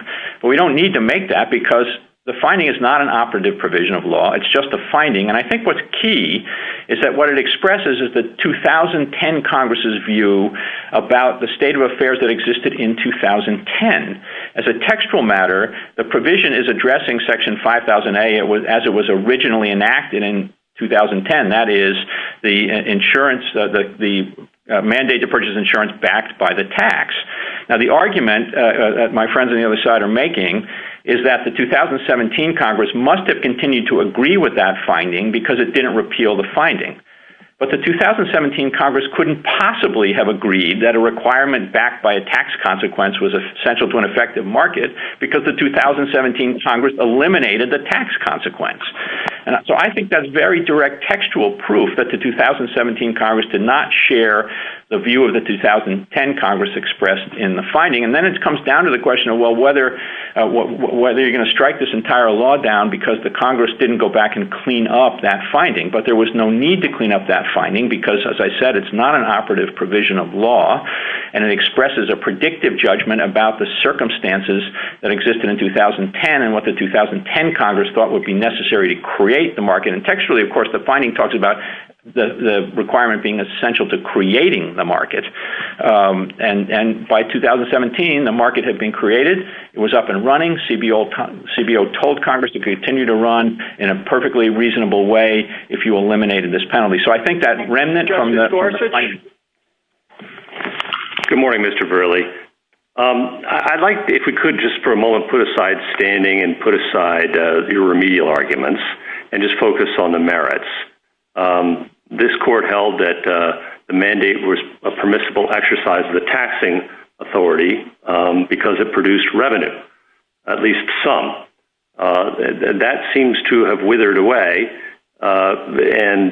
but we don't need to make that because the finding is not an operative provision of law. It's just a finding, and I think what's key is that what it expresses is the 2010 Congress' view about the state of affairs that existed in 2010. As a textual matter, the provision is addressing Section 5000A as it was originally enacted in 2010, and that is the mandate to purchase insurance backed by the tax. Now, the argument that my friends on the other side are making is that the 2017 Congress must have continued to agree with that finding because it didn't repeal the finding. But the 2017 Congress couldn't possibly have agreed that a requirement backed by a tax consequence was essential to an effective market because the 2017 Congress eliminated the tax consequence. So I think that's very direct textual proof that the 2017 Congress did not share the view of the 2010 Congress expressed in the finding, and then it comes down to the question of whether you're going to strike this entire law down because the Congress didn't go back and clean up that finding. But there was no need to clean up that finding because, as I said, it's not an operative provision of law, and it expresses a predictive judgment about the circumstances that existed in 2010 and what the 2010 Congress thought would be necessary to create the market. And textually, of course, the finding talks about the requirement being essential to creating the market. And by 2017, the market had been created. It was up and running. CBO told Congress to continue to run in a perfectly reasonable way if you eliminated this penalty. So I think that remnant from the- Good morning, Mr. Burley. I'd like, if we could just for a moment, put aside standing and put aside your remedial arguments and just focus on the merits. This court held that the mandate was a permissible exercise of the taxing authority because it produced revenue, at least some. That seems to have withered away, and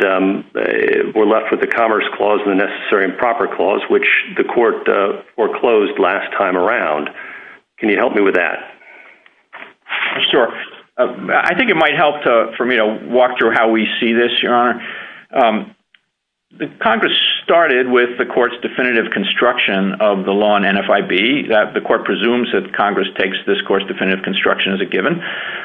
we're left with the Commerce Clause and the Necessary and Proper Clause, which the court foreclosed last time around. Can you help me with that? Sure. I think it might help for me to walk through how we see this, Your Honor. Congress started with the court's definitive construction of the law in NFIB. The court presumes that Congress takes this court's definitive construction as a given,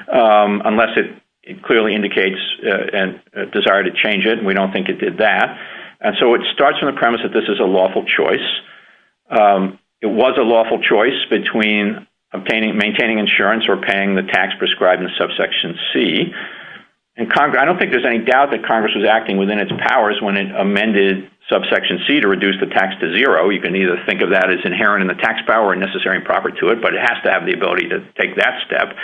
unless it clearly indicates a desire to change it, and we don't think it did that. And so it starts from the premise that this is a lawful choice. It was a lawful choice between maintaining insurance or paying the tax prescribed in Subsection C. I don't think there's any doubt that Congress was acting within its powers when it amended Subsection C to reduce the tax to zero. You can either think of that as inherent in the tax power or Necessary and Proper to it, but it has to have the ability to take that step.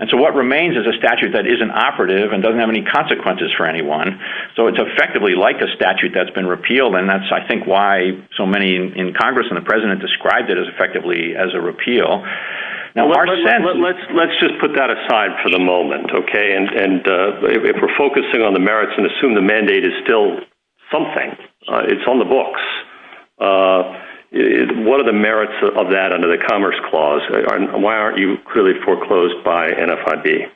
And so what remains is a statute that isn't operative and doesn't have any consequences for anyone. So it's effectively like a statute that's been repealed, and that's, I think, why so many in Congress and the President described it as effectively as a repeal. Let's just put that aside for the moment, okay? If we're focusing on the merits and assume the mandate is still something, it's on the books, what are the merits of that under the Commerce Clause? Why aren't you clearly foreclosed by NFIB?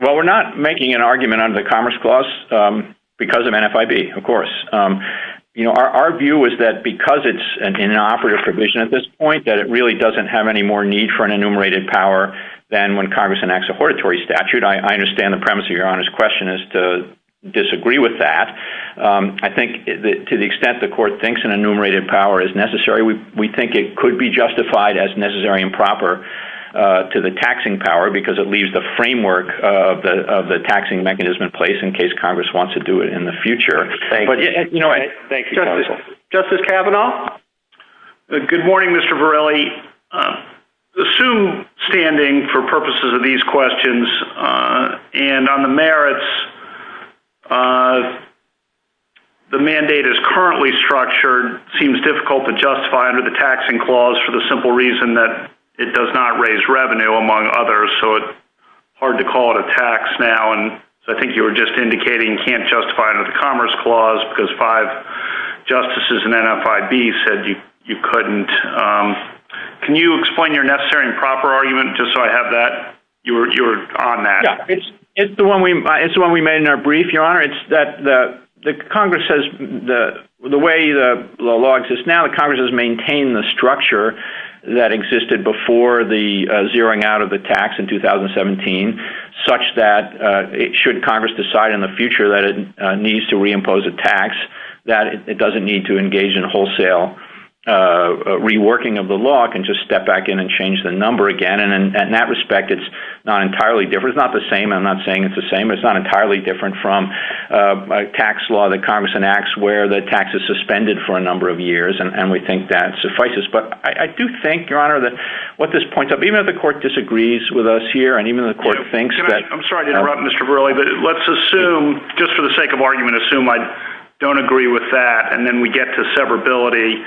Well, we're not making an argument under the Commerce Clause because of NFIB, of course. Our view is that because it's in an operative provision at this point, that it really doesn't have any more need for an enumerated power than when Congress enacts a hortatory statute. I understand the premise of Your Honor's question is to disagree with that. I think to the extent the Court thinks an enumerated power is necessary, we think it could be justified as Necessary and Proper to the taxing power because it leaves the framework of the taxing mechanism in place in case Congress wants to do it in the future. Thank you. Justice Kavanaugh? Good morning, Mr. Varelli. Assume standing for purposes of these questions and on the merits, the mandate is currently structured, seems difficult to justify under the Taxing Clause for the simple reason that it does not raise revenue, among others, so it's hard to call it a tax now. I think you were just indicating you can't justify it under the Commerce Clause because five justices in NFIB said you couldn't. Can you explain your Necessary and Proper argument just so I have that? You were on that. It's the one we made in our brief, Your Honor. It's that the way the law exists now, the Congress has maintained the structure that existed before the zeroing out of the tax in 2017 such that should Congress decide in the future that it needs to reimpose a tax, that it doesn't need to engage in wholesale reworking of the law. It can just step back in and change the number again. In that respect, it's not entirely different. It's not the same. I'm not saying it's the same. It's not entirely different from a tax law that Congress enacts where the tax is suspended for a number of years, and we think that suffices. But I do think, Your Honor, that what this points up, even if the Court disagrees with us here and even if the Court thinks that— I'm sorry to interrupt, Mr. Verrilli, but let's assume, just for the sake of argument, assume I don't agree with that and then we get to severability.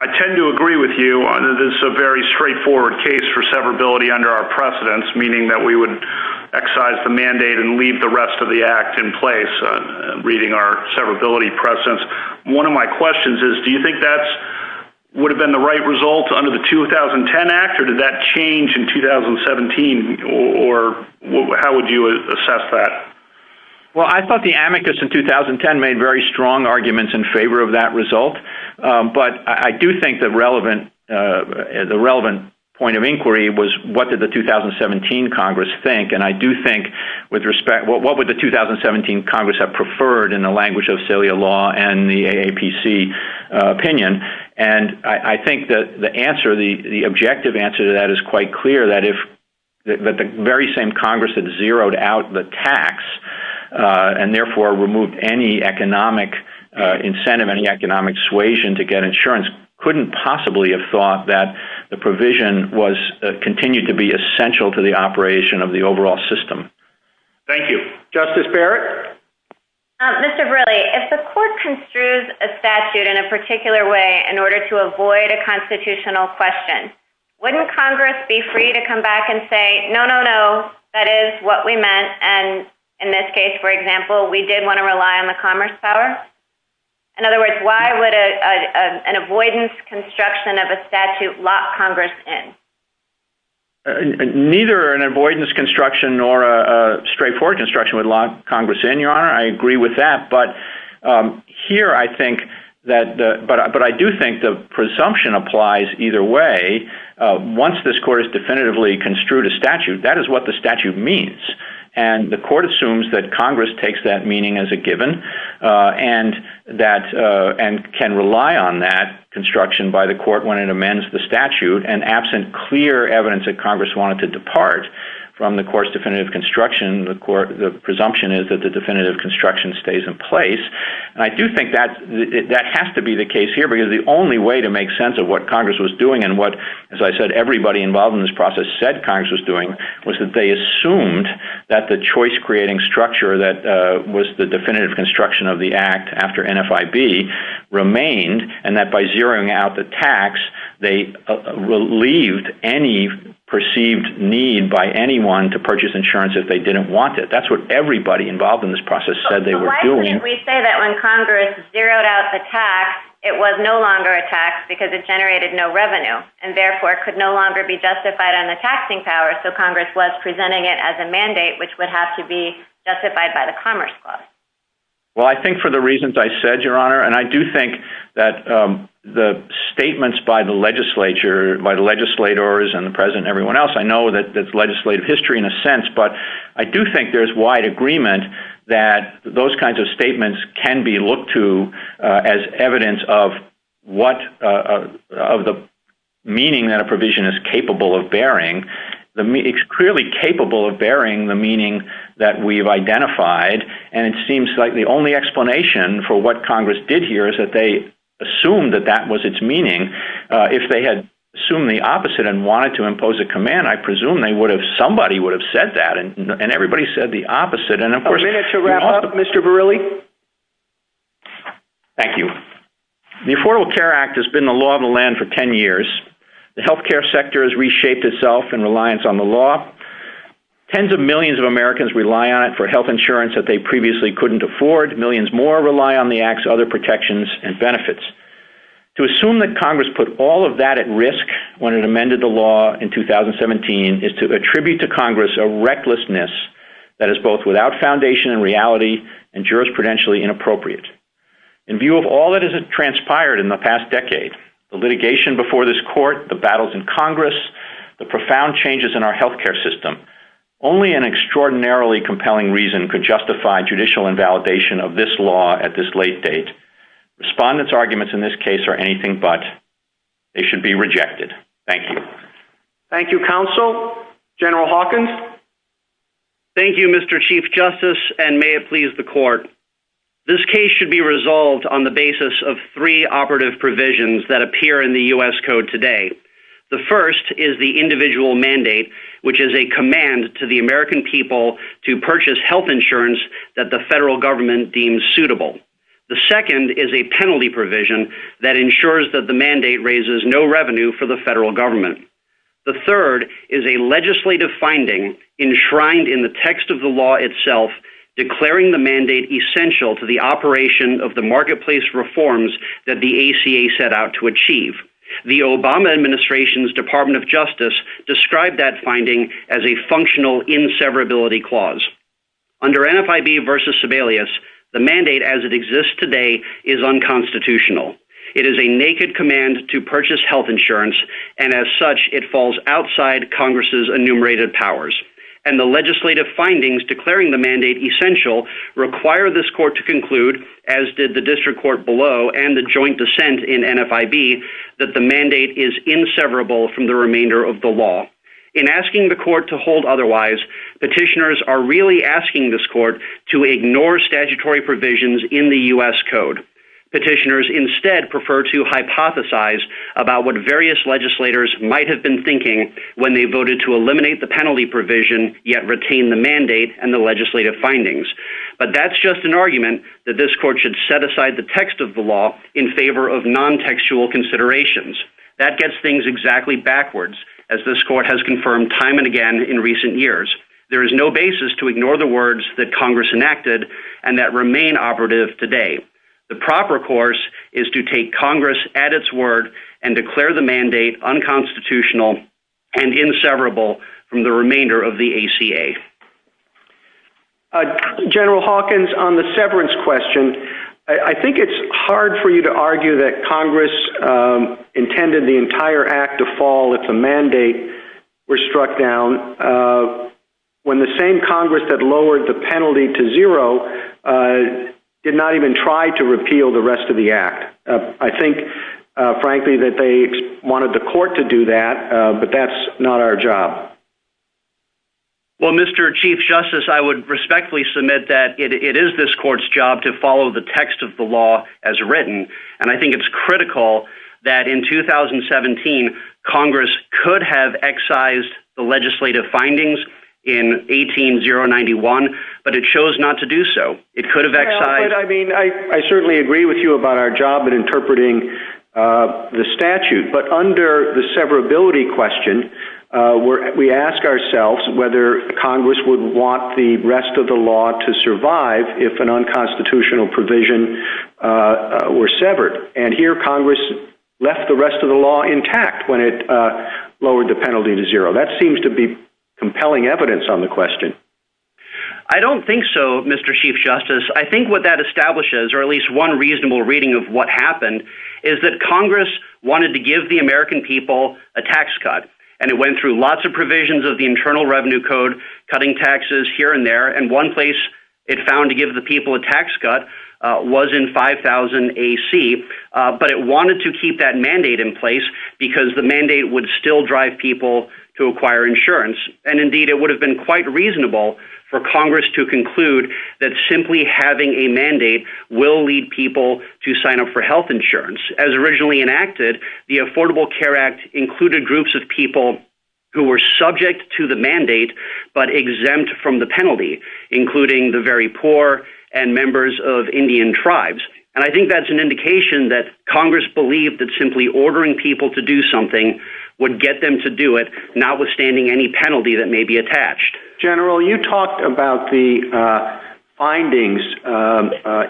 I tend to agree with you that this is a very straightforward case for severability under our precedents, meaning that we would excise the mandate and leave the rest of the Act in place, reading our severability precedents. One of my questions is do you think that would have been the right result under the 2010 Act, or did that change in 2017, or how would you assess that? Well, I thought the amicus in 2010 made very strong arguments in favor of that result, but I do think the relevant point of inquiry was what did the 2017 Congress think, and I do think with respect—what would the 2017 Congress have preferred in the language of cilia law and the AAPC opinion? And I think the answer, the objective answer to that is quite clear, that if the very same Congress that zeroed out the tax and therefore removed any economic incentive, any economic suasion to get insurance, couldn't possibly have thought that the provision was— Thank you. Justice Barrett? Mr. Verrilli, if the court construes a statute in a particular way in order to avoid a constitutional question, wouldn't Congress be free to come back and say, no, no, no, that is what we meant, and in this case, for example, we did want to rely on the commerce power? In other words, why would an avoidance construction of a statute lock Congress in? Neither an avoidance construction nor a straightforward construction would lock Congress in, Your Honor. I agree with that, but here I think that—but I do think the presumption applies either way. Once this court has definitively construed a statute, that is what the statute means, and the court assumes that Congress takes that meaning as a given and can rely on that construction by the court when it amends the statute, and absent clear evidence that Congress wanted to depart from the court's definitive construction, the presumption is that the definitive construction stays in place, and I do think that has to be the case here because the only way to make sense of what Congress was doing and what, as I said, everybody involved in this process said Congress was doing was that they assumed that the choice-creating structure that was the definitive construction of the act after NFIB remained, and that by zeroing out the tax, they relieved any perceived need by anyone to purchase insurance if they didn't want it. That's what everybody involved in this process said they were doing. We say that when Congress zeroed out the tax, it was no longer a tax because it generated no revenue, and therefore could no longer be justified on the taxing power, so Congress was presenting it as a mandate which would have to be justified by the Commerce Clause. Well, I think for the reasons I said, Your Honor, and I do think that the statements by the legislature, by the legislators and the President and everyone else, I know that's legislative history in a sense, but I do think there's wide agreement that those kinds of statements can be looked to as evidence of the meaning that a provision is capable of bearing. It's clearly capable of bearing the meaning that we've identified, and it seems like the only explanation for what Congress did here is that they assumed that that was its meaning. If they had assumed the opposite and wanted to impose a command, I presume somebody would have said that, and everybody said the opposite, and of course— A minute to wrap up, Mr. Verrilli. Thank you. The Affordable Care Act has been the law of the land for 10 years. The healthcare sector has reshaped itself in reliance on the law. Tens of millions of Americans rely on it for health insurance that they previously couldn't afford. Millions more rely on the act's other protections and benefits. To assume that Congress put all of that at risk when it amended the law in 2017 is to attribute to Congress a recklessness that is both without foundation and reality and jurisprudentially inappropriate. In view of all that has transpired in the past decade, the litigation before this court, the battles in Congress, the profound changes in our healthcare system, only an extraordinarily compelling reason could justify judicial invalidation of this law at this late date. Respondents' arguments in this case are anything but. They should be rejected. Thank you. Thank you, Counsel. General Hawkins? Thank you, Mr. Chief Justice, and may it please the Court. This case should be resolved on the basis of three operative provisions that appear in the U.S. Code today. The first is the individual mandate, which is a command to the American people to purchase health insurance that the federal government deems suitable. The second is a penalty provision that ensures that the mandate raises no revenue for the federal government. The third is a legislative finding enshrined in the text of the law itself, declaring the mandate essential to the operation of the marketplace reforms that the ACA set out to achieve. The Obama Administration's Department of Justice described that finding as a functional inseverability clause. Under NFIB v. Sebelius, the mandate as it exists today is unconstitutional. It is a naked command to purchase health insurance, and as such, it falls outside Congress's enumerated powers. And the legislative findings declaring the mandate essential require this Court to conclude, as did the district court below and the joint dissent in NFIB, that the mandate is inseverable from the remainder of the law. In asking the Court to hold otherwise, petitioners are really asking this Court to ignore statutory provisions in the U.S. Code. Petitioners instead prefer to hypothesize about what various legislators might have been thinking when they voted to eliminate the penalty provision, yet retain the mandate and the legislative findings. But that's just an argument that this Court should set aside the text of the law in favor of non-textual considerations. That gets things exactly backwards, as this Court has confirmed time and again in recent years. There is no basis to ignore the words that Congress enacted and that remain operative today. The proper course is to take Congress at its word and declare the mandate unconstitutional and inseverable from the remainder of the ACA. General Hawkins, on the severance question, I think it's hard for you to argue that Congress intended the entire act to fall if the mandate were struck down, when the same Congress that lowered the penalty to zero did not even try to repeal the rest of the act. I think, frankly, that they wanted the Court to do that, but that's not our job. Well, Mr. Chief Justice, I would respectfully submit that it is this Court's job to follow the text of the law as written. And I think it's critical that in 2017, Congress could have excised the legislative findings in 18091, but it chose not to do so. I certainly agree with you about our job in interpreting the statute. But under the severability question, we ask ourselves whether Congress would want the rest of the law to survive if an unconstitutional provision were severed. And here, Congress left the rest of the law intact when it lowered the penalty to zero. That seems to be compelling evidence on the question. I don't think so, Mr. Chief Justice. I think what that establishes, or at least one reasonable reading of what happened, is that Congress wanted to give the American people a tax cut. And it went through lots of provisions of the Internal Revenue Code, cutting taxes here and there. And one place it found to give the people a tax cut was in 5000 AC. But it wanted to keep that mandate in place because the mandate would still drive people to acquire insurance. And indeed, it would have been quite reasonable for Congress to conclude that simply having a mandate will lead people to sign up for health insurance. As originally enacted, the Affordable Care Act included groups of people who were subject to the mandate but exempt from the penalty, including the very poor and members of Indian tribes. And I think that's an indication that Congress believed that simply ordering people to do something would get them to do it, notwithstanding any penalty that may be attached. General, you talked about the findings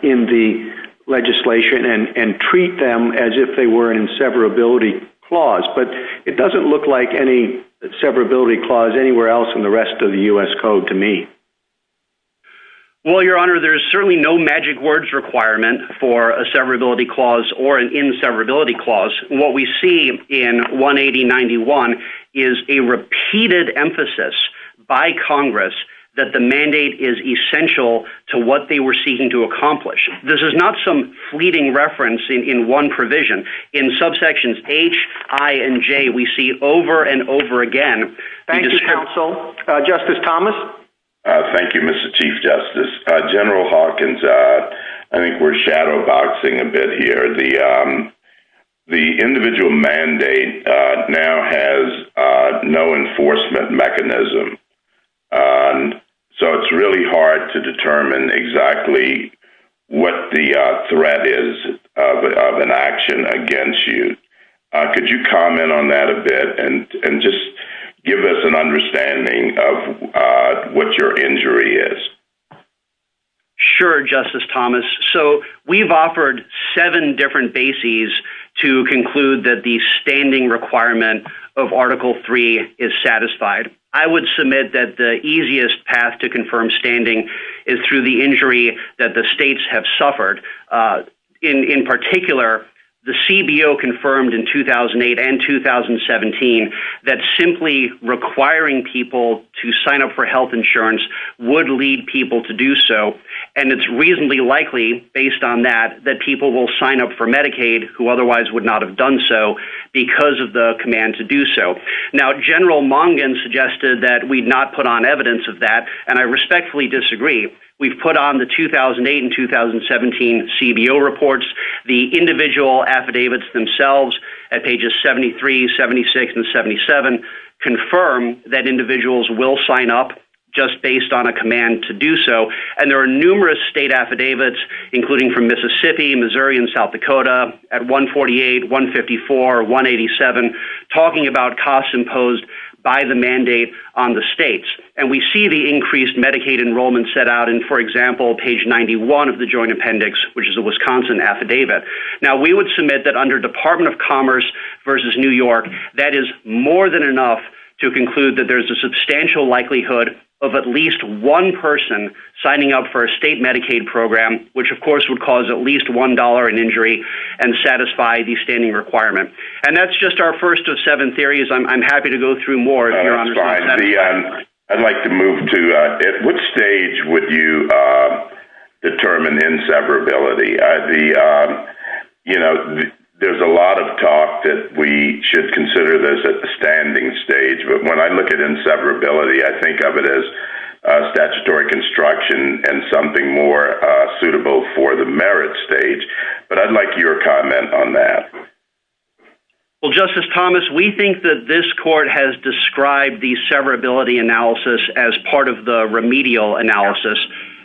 in the legislation and treat them as if they were in severability clause. But it doesn't look like any severability clause anywhere else in the rest of the U.S. Code to me. Well, Your Honor, there's certainly no magic words requirement for a severability clause or an inseverability clause. What we see in 18091 is a repeated emphasis by Congress that the mandate is essential to what they were seeking to accomplish. This is not some fleeting reference in one provision. In subsections H, I, and J, we see over and over again. Thank you, counsel. Justice Thomas? Thank you, Mr. Chief Justice. General Hawkins, I think we're shadowboxing a bit here. The individual mandate now has no enforcement mechanism, so it's really hard to determine exactly what the threat is of an action against you. Could you comment on that a bit and just give us an understanding of what your injury is? Sure, Justice Thomas. So we've offered seven different bases to conclude that the standing requirement of Article III is satisfied. I would submit that the easiest path to confirm standing is through the injury that the states have suffered. In particular, the CBO confirmed in 2008 and 2017 that simply requiring people to sign up for health insurance would lead people to do so, and it's reasonably likely, based on that, that people will sign up for Medicaid who otherwise would not have done so because of the command to do so. Now, General Mungin suggested that we not put on evidence of that, and I respectfully disagree. We've put on the 2008 and 2017 CBO reports. The individual affidavits themselves at pages 73, 76, and 77 confirm that individuals will sign up just based on a command to do so, and there are numerous state affidavits, including from Mississippi, Missouri, and South Dakota, at 148, 154, or 187, talking about costs imposed by the mandate on the states, and we see the increased Medicaid enrollment set out in, for example, page 91 of the Joint Appendix, which is a Wisconsin affidavit. Now, we would submit that under Department of Commerce versus New York, that is more than enough to conclude that there's a substantial likelihood of at least one person signing up for a state Medicaid program, which, of course, would cause at least $1 in injury and satisfy the standing requirement. And that's just our first of seven theories. I'm happy to go through more if you're on the call. That's fine. I'd like to move to at which stage would you determine inseparability. You know, there's a lot of talk that we should consider this at the standing stage, but when I look at inseparability, I think of it as statutory construction and something more suitable for the merit stage, but I'd like your comment on that. Well, Justice Thomas, we think that this court has described the severability analysis as part of the remedial analysis,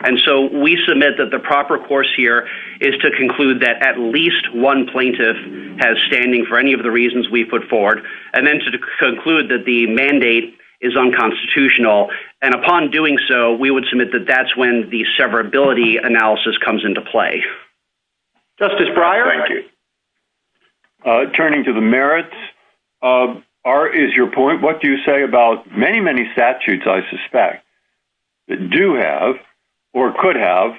and so we submit that the proper course here is to conclude that at least one plaintiff has standing for any of the reasons we put forward, and then to conclude that the mandate is unconstitutional. And upon doing so, we would submit that that's when the severability analysis comes into play. Justice Breyer. Thank you. Turning to the merits, is your point, what do you say about many, many statutes, I suspect, that do have or could have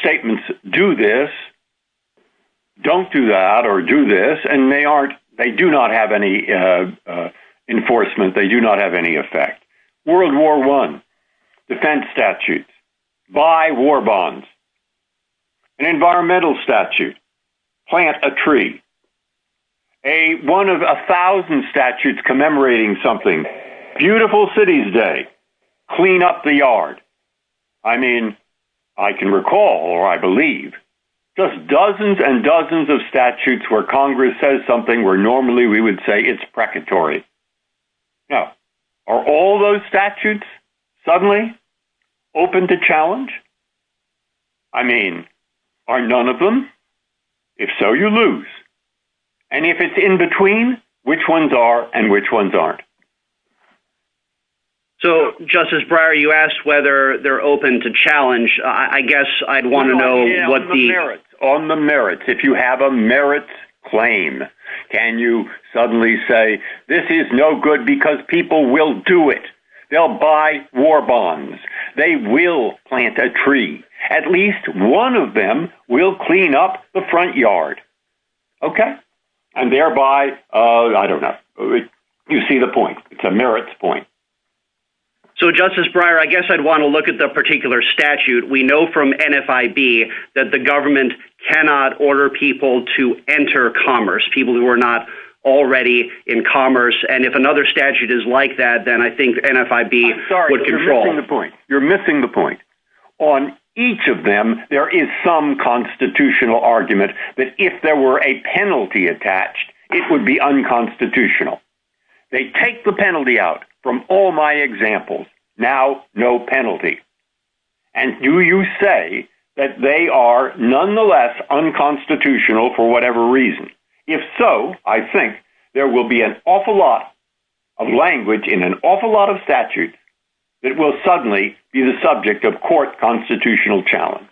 statements do this, don't do that, or do this, and they do not have any enforcement, they do not have any effect? World War I, defense statutes, buy war bonds, an environmental statute, plant a tree, one of a thousand statutes commemorating something, beautiful city's day, clean up the yard. I mean, I can recall, or I believe, just dozens and dozens of statutes where Congress says something where normally we would say it's precatory. Now, are all those statutes suddenly open to challenge? I mean, are none of them? If so, you lose. And if it's in between, which ones are and which ones aren't? So, Justice Breyer, you asked whether they're open to challenge. I guess I'd want to know what the... Can you suddenly say, this is no good because people will do it. They'll buy war bonds. They will plant a tree. At least one of them will clean up the front yard. Okay? And thereby, I don't know, you see the point. It's a merits point. So, Justice Breyer, I guess I'd want to look at the particular statute. We know from NFIB that the government cannot order people to enter commerce, people who are not already in commerce. And if another statute is like that, then I think NFIB would control. You're missing the point. On each of them, there is some constitutional argument that if there were a penalty attached, it would be unconstitutional. They take the penalty out from all my examples. Now, no penalty. And do you say that they are nonetheless unconstitutional for whatever reason? If so, I think there will be an awful lot of language in an awful lot of statutes that will suddenly be the subject of court constitutional challenge.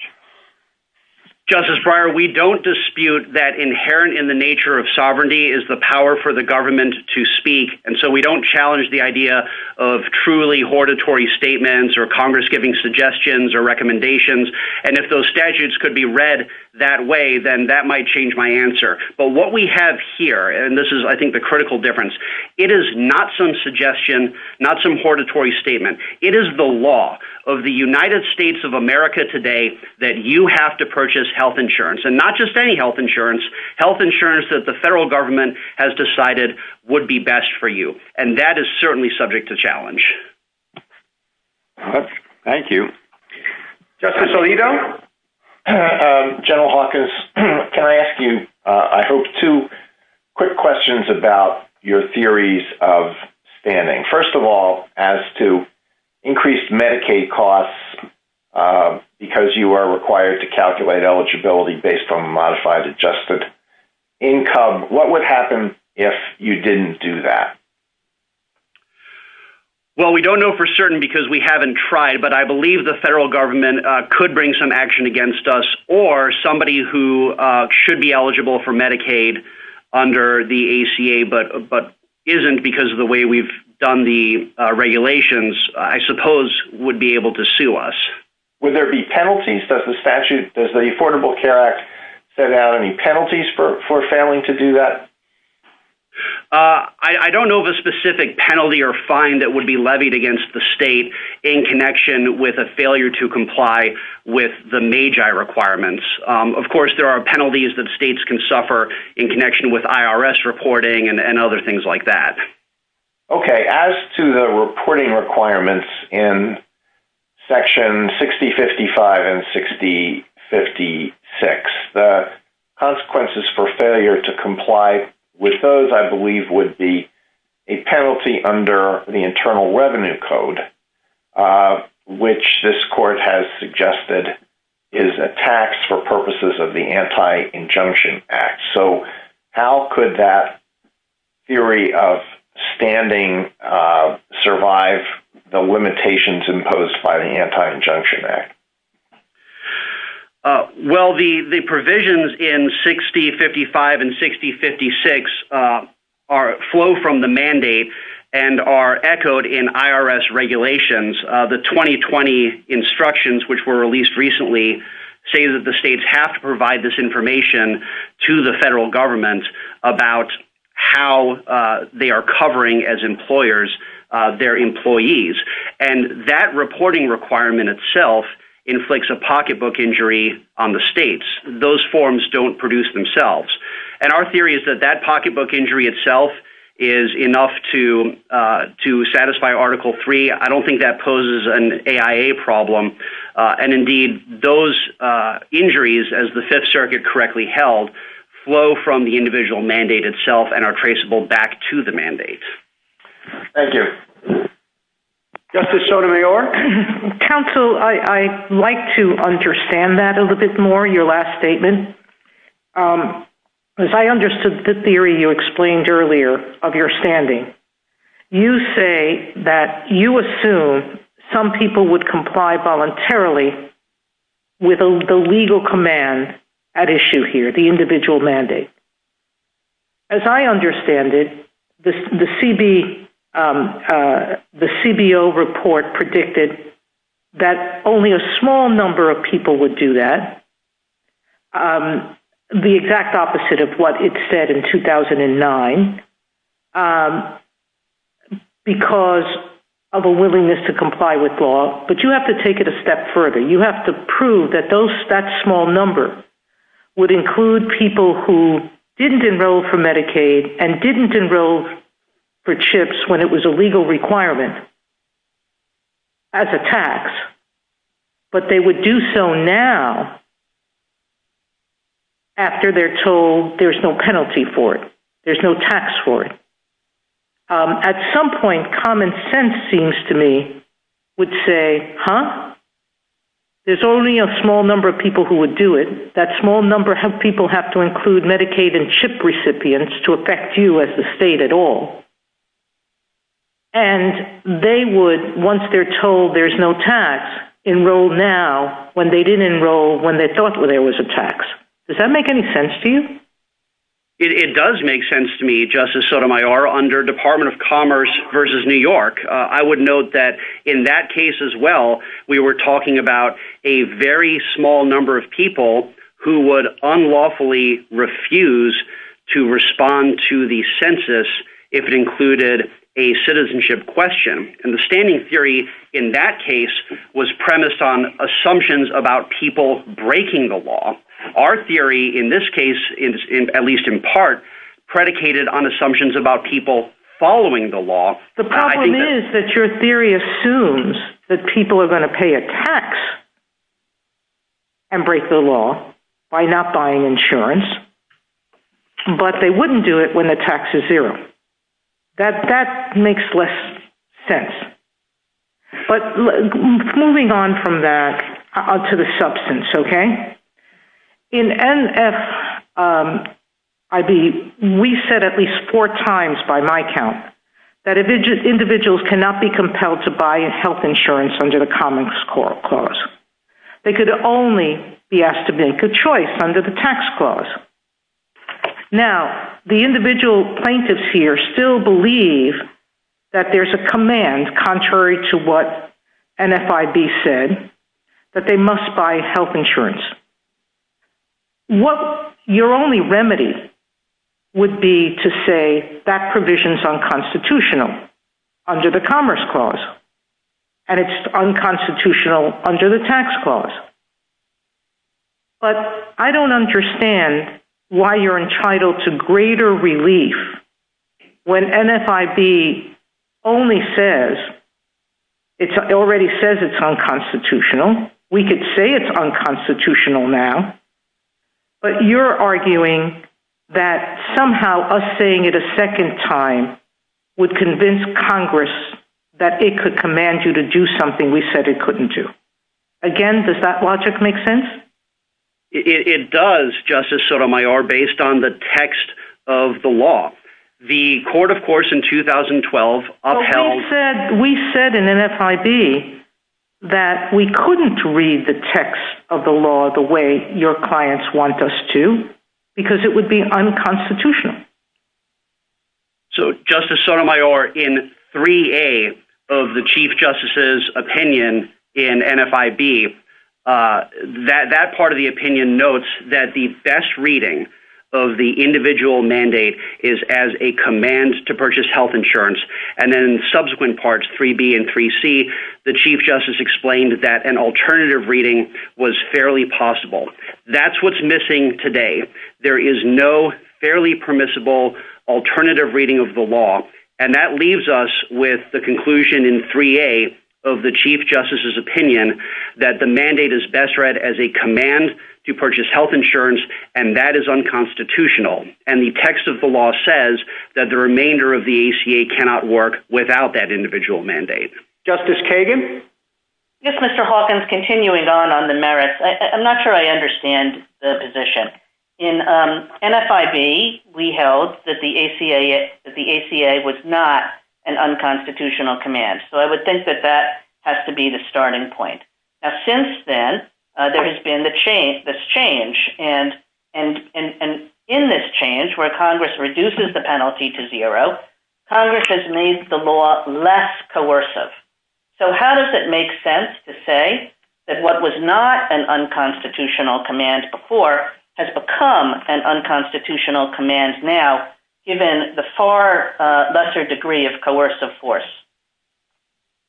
Justice Breyer, we don't dispute that inherent in the nature of sovereignty is the power for the government to speak. And so we don't challenge the idea of truly hortatory statements or Congress giving suggestions or recommendations. And if those statutes could be read that way, then that might change my answer. But what we have here, and this is I think the critical difference, it is not some suggestion, not some hortatory statement. It is the law of the United States of America today that you have to purchase health insurance, and not just any health insurance, health insurance that the federal government has decided would be best for you. And that is certainly subject to challenge. Thank you. Justice Alito? General Hawkins, can I ask you, I hope, two quick questions about your theories of standing. First of all, as to increased Medicaid costs, because you are required to calculate eligibility based on modified adjusted income, what would happen if you didn't do that? Well, we don't know for certain because we haven't tried, but I believe the federal government could bring some action against us, or somebody who should be eligible for Medicaid under the ACA but isn't because of the way we've done the regulations, I suppose, would be able to sue. Would there be penalties? Does the Affordable Care Act set out any penalties for failing to do that? I don't know of a specific penalty or fine that would be levied against the state in connection with a failure to comply with the MAGI requirements. Of course, there are penalties that states can suffer in connection with IRS reporting and other things like that. Okay, as to the reporting requirements in Section 6055 and 6056, the consequences for failure to comply with those, I believe, would be a penalty under the Internal Revenue Code, which this court has suggested is a tax for purposes of the Anti-Injunction Act. So how could that theory of standing survive the limitations imposed by the Anti-Injunction Act? Well, the provisions in 6055 and 6056 flow from the mandate and are echoed in IRS regulations. The 2020 instructions, which were released recently, say that the states have to provide this information to the federal government about how they are covering, as employers, their employees. And that reporting requirement itself inflicts a pocketbook injury on the states. Those forms don't produce themselves. And our theory is that that pocketbook injury itself is enough to satisfy Article III. I don't think that poses an AIA problem. And indeed, those injuries, as the Fifth Circuit correctly held, flow from the individual mandate itself and are traceable back to the mandate. Thank you. Justice Sotomayor? Counsel, I'd like to understand that a little bit more, your last statement. As I understood the theory you explained earlier of your standing, you say that you assume some people would comply voluntarily with the legal command at issue here, the individual mandate. As I understand it, the CBO report predicted that only a small number of people would do that, the exact opposite of what it said in 2009, because of a willingness to comply with law. But you have to take it a step further. You have to prove that that small number would include people who didn't enroll for Medicaid and didn't enroll for CHIPS when it was a legal requirement as a tax, but they would do so now after they're told there's no penalty for it, there's no tax for it. At some point, common sense seems to me would say, huh, there's only a small number of people who would do it. That small number of people have to include Medicaid and CHIP recipients to affect you as a state at all. And they would, once they're told there's no tax, enroll now when they didn't enroll when they thought there was a tax. Does that make any sense to you? It does make sense to me, Justice Sotomayor, under Department of Commerce versus New York. I would note that in that case as well, we were talking about a very small number of people who would unlawfully refuse to respond to the census if it included a citizenship question. And the standing theory in that case was premised on assumptions about people breaking the law. Our theory in this case, at least in part, predicated on assumptions about people following the law. The problem is that your theory assumes that people are going to pay a tax and break the law by not buying insurance, but they wouldn't do it when the tax is zero. That makes less sense. But moving on from that to the substance, okay? In NFIB, we said at least four times by my count that individuals cannot be compelled to buy health insurance under the common score clause. They could only be asked to make a choice under the tax clause. Now, the individual plaintiffs here still believe that there's a command, contrary to what NFIB said, that they must buy health insurance. Your only remedy would be to say that provision is unconstitutional under the commerce clause, and it's unconstitutional under the tax clause. But I don't understand why you're entitled to greater relief when NFIB only says, it already says it's unconstitutional. We could say it's unconstitutional now, but you're arguing that somehow us saying it a second time would convince Congress that it could command you to do something we said it couldn't do. Again, does that logic make sense? It does, Justice Sotomayor, based on the text of the law. The court, of course, in 2012 upheld- We said in NFIB that we couldn't read the text of the law the way your clients want us to because it would be unconstitutional. So, Justice Sotomayor, in 3A of the Chief Justice's opinion in NFIB, that part of the opinion notes that the best reading of the individual mandate is as a command to purchase health insurance. And then in subsequent parts, 3B and 3C, the Chief Justice explained that an alternative reading was fairly possible. That's what's missing today. There is no fairly permissible alternative reading of the law. And that leaves us with the conclusion in 3A of the Chief Justice's opinion that the mandate is best read as a command to purchase health insurance, and that is unconstitutional. And the text of the law says that the remainder of the ACA cannot work without that individual mandate. Justice Kagan? Yes, Mr. Hawkins, continuing on on the merits. I'm not sure I understand the position. In NFIB, we held that the ACA was not an unconstitutional command. So I would think that that has to be the starting point. Since then, there has been this change, and in this change where Congress reduces the penalty to zero, Congress has made the law less coercive. So how does it make sense to say that what was not an unconstitutional command before has become an unconstitutional command now, given the far lesser degree of coercive force?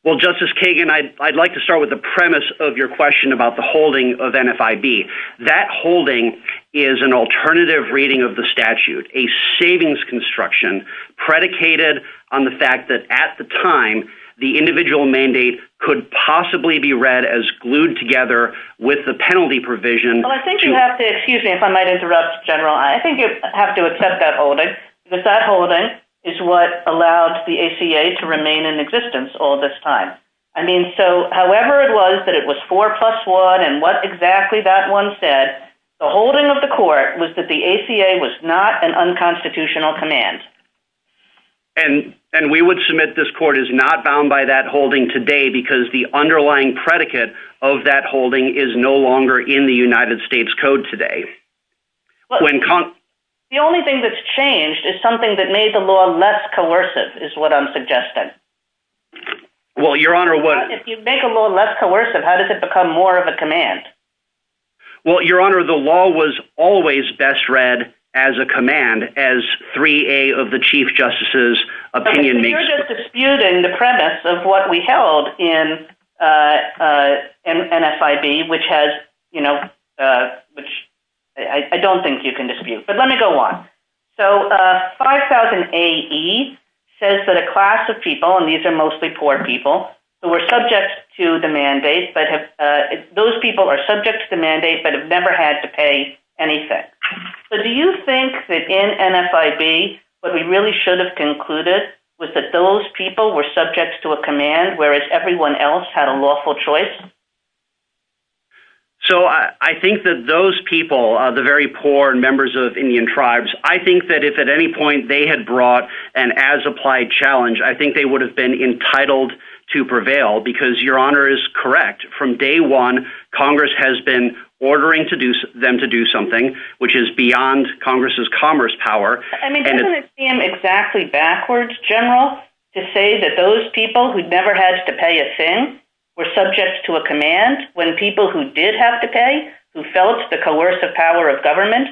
Well, Justice Kagan, I'd like to start with the premise of your question about the holding of NFIB. That holding is an alternative reading of the statute, a savings construction predicated on the fact that at the time, the individual mandate could possibly be read as glued together with the penalty provision. Well, I think you have to – excuse me if I might interrupt, General. I think you have to accept that holding, that that holding is what allowed the ACA to remain in existence all this time. I mean, so however it was that it was 4 plus 1 and what exactly that one said, the holding of the court was that the ACA was not an unconstitutional command. And we would submit this court is not bound by that holding today because the underlying predicate of that holding is no longer in the United States Code today. The only thing that's changed is something that made the law less coercive is what I'm suggesting. Well, Your Honor, what – If you make a law less coercive, how does it become more of a command? Well, Your Honor, the law was always best read as a command as 3A of the Chief Justice's opinion makes – You're just disputing the premise of what we held in NFIB, which has – I don't think you can dispute. But let me go on. So 5000AE says that a class of people, and these are mostly poor people, who were subject to the mandate, but those people are subject to the mandate but have never had to pay anything. Do you think that in NFIB what we really should have concluded was that those people were subject to a command whereas everyone else had a lawful choice? So I think that those people, the very poor members of Indian tribes, I think that if at any point they had brought an as-applied challenge, I think they would have been entitled to prevail because Your Honor is correct. From day one, Congress has been ordering them to do something, which is beyond Congress's commerce power. I mean, doesn't it seem exactly backwards, General, to say that those people who never had to pay a fin were subject to a command when people who did have to pay, who felt the coercive power of government,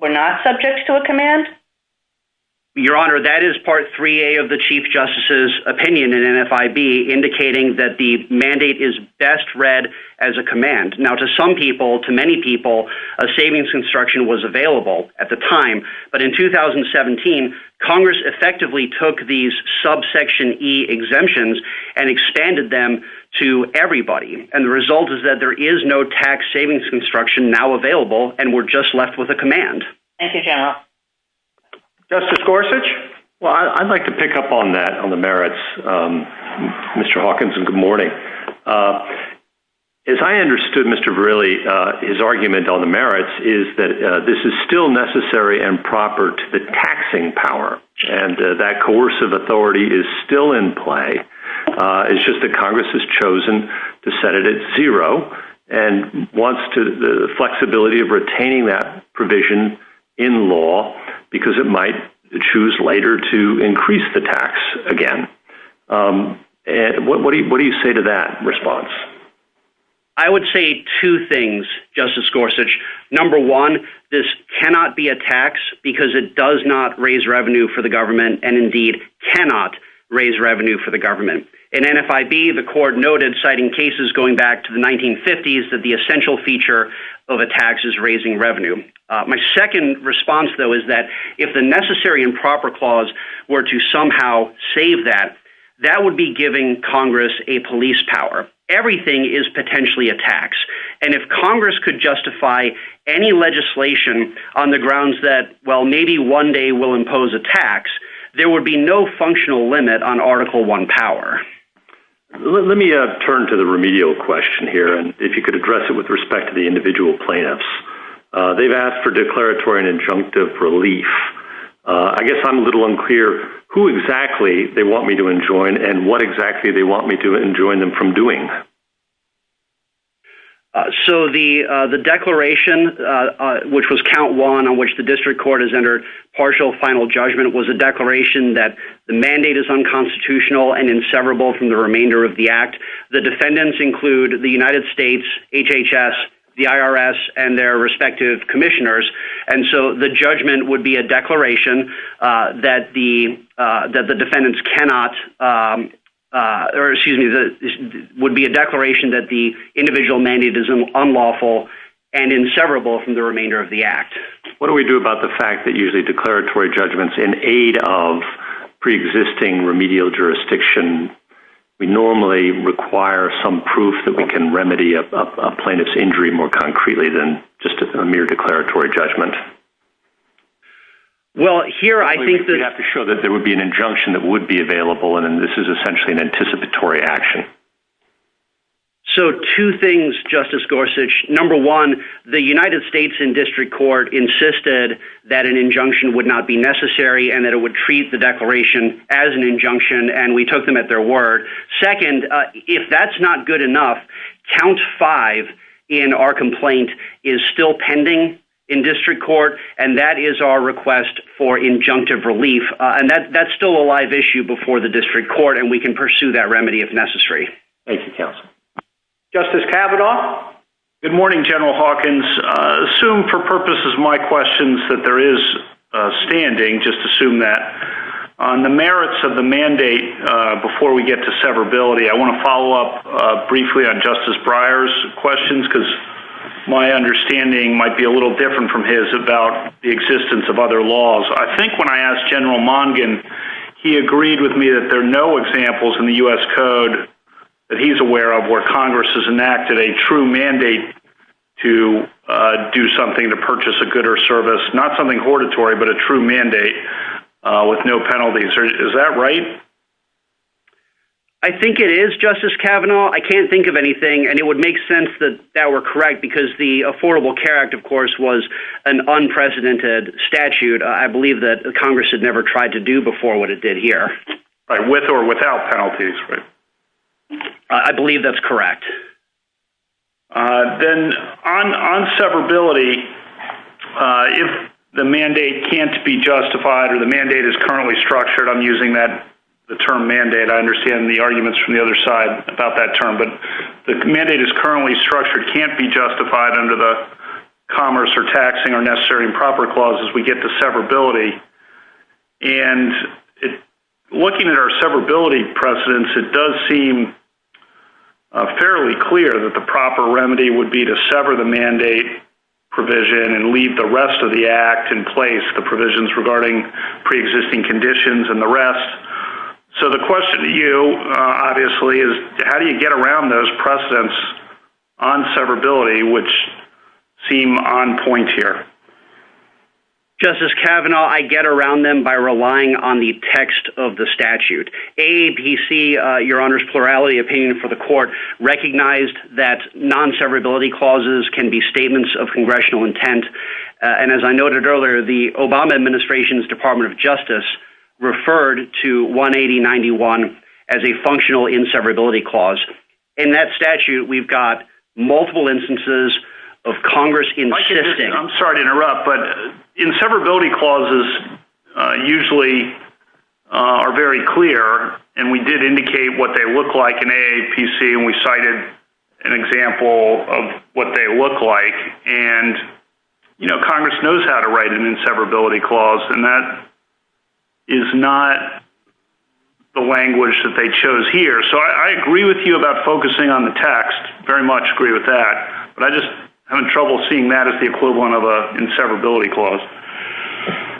were not subject to a command? Your Honor, that is part 3A of the Chief Justice's opinion in NFIB indicating that the mandate is best read as a command. Now to some people, to many people, a savings construction was available at the time, but in 2017 Congress effectively took these subsection E exemptions and expanded them to everybody, and the result is that there is no tax savings construction now available and we're just left with a command. Thank you, General. Justice Gorsuch? Well, I'd like to pick up on that, on the merits. Mr. Hawkins, good morning. As I understood Mr. Verrilli, his argument on the merits is that this is still necessary and proper to the taxing power, and that coercive authority is still in play. It's just that Congress has chosen to set it at zero and wants the flexibility of retaining that provision in law because it might choose later to increase the tax again. What do you say to that response? I would say two things, Justice Gorsuch. Number one, this cannot be a tax because it does not raise revenue for the government and indeed cannot raise revenue for the government. In NFIB, the court noted, citing cases going back to the 1950s, that the essential feature of a tax is raising revenue. My second response, though, is that if the necessary and proper clause were to somehow save that, that would be giving Congress a police power. Everything is potentially a tax. And if Congress could justify any legislation on the grounds that, well, maybe one day we'll impose a tax, there would be no functional limit on Article I power. Let me turn to the remedial question here, if you could address it with respect to the individual plaintiffs. They've asked for declaratory and injunctive relief. I guess I'm a little unclear who exactly they want me to enjoin and what exactly they want me to enjoin them from doing. So the declaration, which was Count 1, on which the district court has entered partial final judgment, was a declaration that the mandate is unconstitutional and inseparable from the remainder of the Act. The defendants include the United States, HHS, the IRS, and their respective commissioners. And so the judgment would be a declaration that the defendants cannot, or excuse me, would be a declaration that the individual mandate is unlawful and inseparable from the remainder of the Act. What do we do about the fact that usually declaratory judgments in aid of preexisting remedial jurisdiction, we normally require some proof that we can remedy a plaintiff's injury more concretely than just a mere declaratory judgment? Well, here I think... You have to show that there would be an injunction that would be available, and this is essentially an anticipatory action. So two things, Justice Gorsuch. Number one, the United States and district court insisted that an injunction would not be necessary and that it would treat the declaration as an injunction, and we took them at their word. Second, if that's not good enough, count five in our complaint is still pending in district court, and that is our request for injunctive relief, and that's still a live issue before the district court, and we can pursue that remedy if necessary. Thank you, counsel. Justice Kavanaugh? Good morning, General Hawkins. Assume for purposes of my questions that there is a standing, just assume that. On the merits of the mandate before we get to severability, I want to follow up briefly on Justice Breyer's questions because my understanding might be a little different from his about the existence of other laws. I think when I asked General Mongan, he agreed with me that there are no examples in the U.S. Code that he's aware of where Congress has enacted a true mandate to do something to purchase a good or service, not something hortatory but a true mandate with no penalties. Is that right? I think it is, Justice Kavanaugh. I can't think of anything, and it would make sense that that were correct because the Affordable Care Act, of course, was an unprecedented statute. I believe that Congress had never tried to do before what it did here. With or without penalties, right? I believe that's correct. Then on severability, if the mandate can't be justified or the mandate is currently structured, I'm using the term mandate. I understand the arguments from the other side about that term, but the mandate is currently structured, can't be justified under the Commerce or Taxing or Necessary and Proper Clauses. We get to severability. And looking at our severability precedents, it does seem fairly clear that the proper remedy would be to sever the mandate provision and leave the rest of the act in place, the provisions regarding preexisting conditions and the rest. So the question to you, obviously, is how do you get around those precedents on severability, which seem on point here? Justice Kavanaugh, I get around them by relying on the text of the statute. AAPC, Your Honor's plurality opinion for the court, recognized that non-severability clauses can be statements of congressional intent. And as I noted earlier, the Obama administration's Department of Justice referred to 18091 as a functional inseverability clause. In that statute, we've got multiple instances of Congress insisting... I'm sorry to interrupt, but inseverability clauses usually are very clear, and we did indicate what they look like in AAPC, and we cited an example of what they look like. And, you know, Congress knows how to write an inseverability clause, and that is not the language that they chose here. So I agree with you about focusing on the text, very much agree with that. But I just have trouble seeing that as the equivalent of an inseverability clause.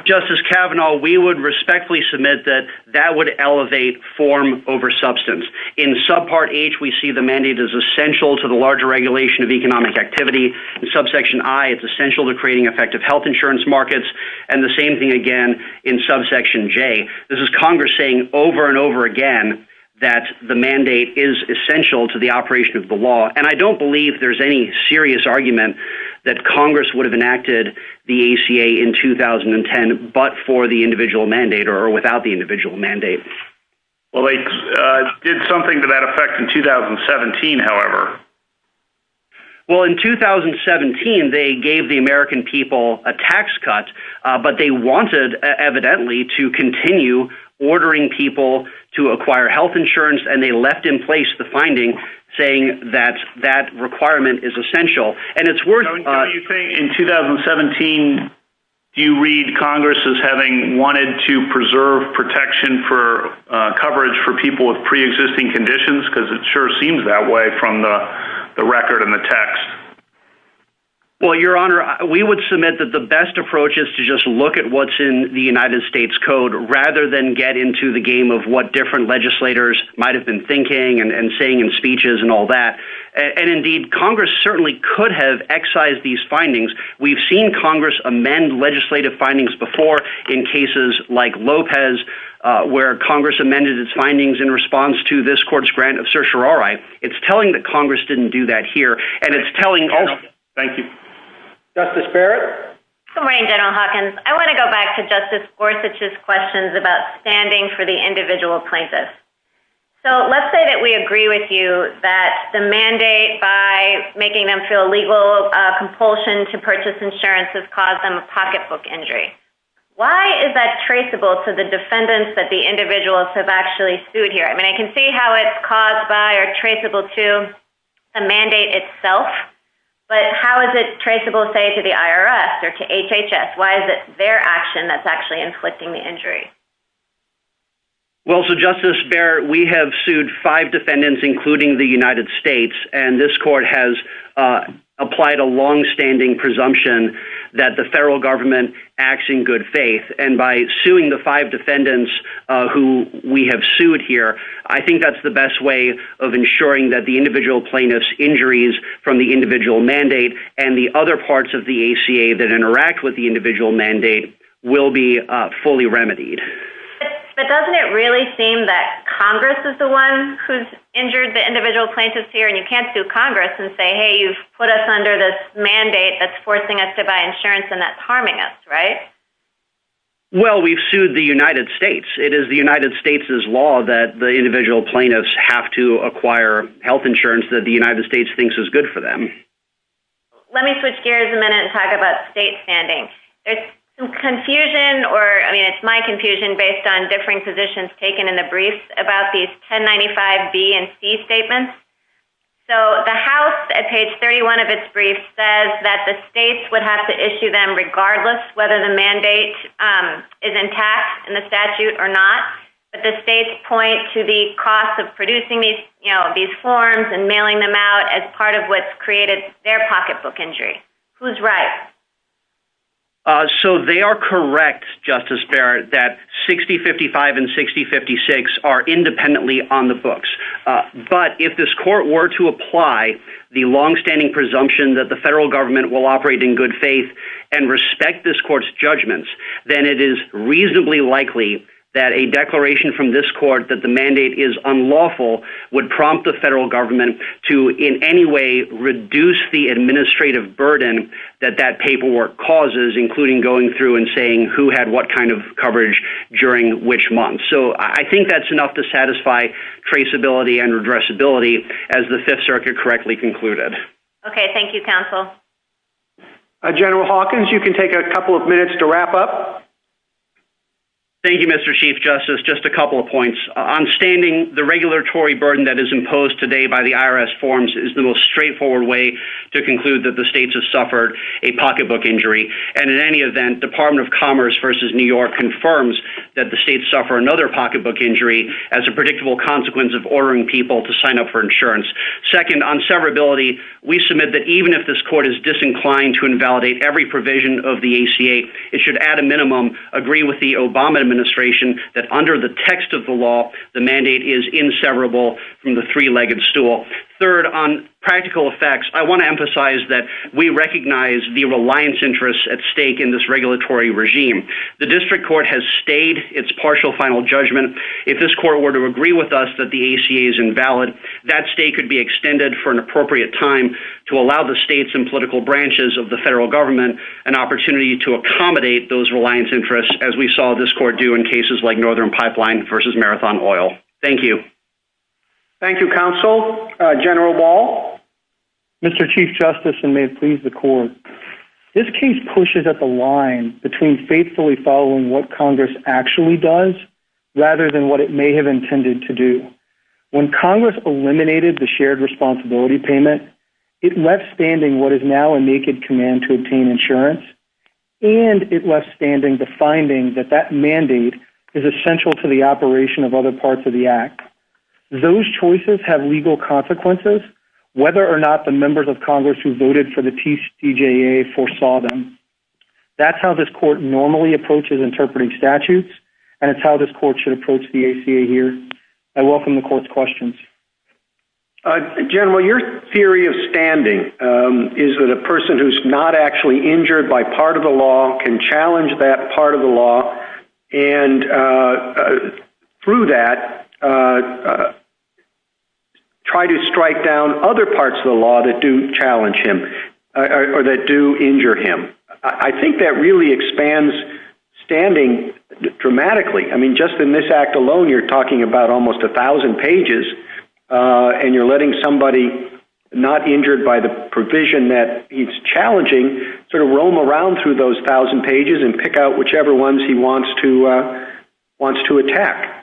Justice Kavanaugh, we would respectfully submit that that would elevate form over substance. In subpart H, we see the mandate is essential to the larger regulation of economic activity. In subsection I, it's essential to creating effective health insurance markets. And the same thing again in subsection J. This is Congress saying over and over again that the mandate is essential to the operation of the law. And I don't believe there's any serious argument that Congress would have enacted the ACA in 2010 but for the individual mandate or without the individual mandate. Well, they did something to that effect in 2017, however. Well, in 2017, they gave the American people a tax cut, but they wanted, evidently, to continue ordering people to acquire health insurance, and they left in place the finding saying that that requirement is essential. And it's worth... Kevin, do you think in 2017, do you read Congress as having wanted to preserve protection for coverage for people with preexisting conditions? Because it sure seems that way from the record and the text. Well, Your Honor, we would submit that the best approach is to just look at what's in the United States Code rather than get into the game of what different legislators might have been thinking and saying in speeches and all that. And indeed, Congress certainly could have excised these findings. We've seen Congress amend legislative findings before in cases like Lopez where Congress amended its findings in response to this court's grant of certiorari. It's telling that Congress didn't do that here, and it's telling us... Thank you. Justice Barrett? Good morning, General Hopkins. I want to go back to Justice Gorsuch's questions about standing for the individual plaintiffs. So let's say that we agree with you that the mandate by making them feel legal compulsion to purchase insurance has caused them a pocketbook injury. Why is that traceable to the defendants that the individuals have actually sued here? I mean, I can see how it's caused by or traceable to the mandate itself, but how is it traceable, say, to the IRS or to HHS? Why is it their action that's actually inflicting the injury? Well, so, Justice Barrett, we have sued five defendants, including the United States, and this court has applied a longstanding presumption that the federal government acts in good faith, and by suing the five defendants who we have sued here, I think that's the best way of ensuring that the individual plaintiff's injuries from the individual mandate and the other parts of the ACA that interact with the individual mandate will be fully remedied. But doesn't it really seem that Congress is the one who's injured the individual plaintiffs here, and you can't sue Congress and say, hey, you've put us under this mandate that's forcing us to buy insurance and that's harming us, right? Well, we've sued the United States. It is the United States' law that the individual plaintiffs have to acquire health insurance that the United States thinks is good for them. Let me switch gears a minute and talk about state standing. There's some confusion, or, I mean, it's my confusion, based on differing positions taken in the briefs about these 1095B and C statements. So the House, at page 31 of its brief, says that the states would have to issue them regardless of whether the mandate is intact in the statute or not, but the states point to the cost of producing these forms and mailing them out as part of what's created their pocketbook injury. Who's right? So they are correct, Justice Barrett, that 6055 and 6056 are independently on the books. But if this court were to apply the longstanding presumption that the federal government will operate in good faith and respect this court's judgments, then it is reasonably likely that a declaration from this court that the mandate is unlawful would prompt the federal government to in any way reduce the administrative burden that that paperwork causes, including going through and saying who had what kind of coverage during which month. So I think that's enough to satisfy traceability and addressability as the Fifth Circuit correctly concluded. Okay. Thank you, counsel. General Hawkins, you can take a couple of minutes to wrap up. Thank you, Mr. Chief Justice. Just a couple of points. On standing, the regulatory burden that is imposed today by the IRS forms is the most straightforward way to conclude that the states have suffered a pocketbook injury. And in any event, Department of Commerce v. New York confirms that the states suffer another pocketbook injury as a predictable consequence of ordering people to sign up for insurance. Second, on severability, we submit that even if this court is disinclined to invalidate every provision of the ACA, it should at a minimum agree with the Obama administration that under the text of the law, the mandate is inseverable from the three-legged stool. Third, on practical effects, I want to emphasize that we recognize the reliance interests at stake in this regulatory regime. The district court has stayed its partial final judgment. If this court were to agree with us that the ACA is invalid, that state could be extended for an appropriate time to allow the states and political branches of the federal government an opportunity to accommodate those reliance interests, as we saw this court do in cases like Northern Pipeline v. Marathon Oil. Thank you. Thank you, counsel. General Ball? Mr. Chief Justice, and may it please the court, this case pushes at the line between faithfully following what Congress actually does rather than what it may have intended to do. When Congress eliminated the shared responsibility payment, it left standing what is now a naked command to obtain insurance, and it left standing the finding that that mandate is essential to the operation of other parts of the act. Those choices have legal consequences, whether or not the members of Congress who voted for the TCJA foresaw them. That's how this court normally approaches interpreting statutes, and it's how this court should approach the ACA here. I welcome the court's questions. General, your theory of standing is that a person who's not actually injured by part of the law can challenge that part of the law and, through that, try to strike down other parts of the law that do challenge him or that do injure him. I think that really expands standing dramatically. I mean, just in this act alone, you're talking about almost 1,000 pages, and you're letting somebody not injured by the provision that he's challenging sort of roam around through those 1,000 pages and pick out whichever ones he wants to attack.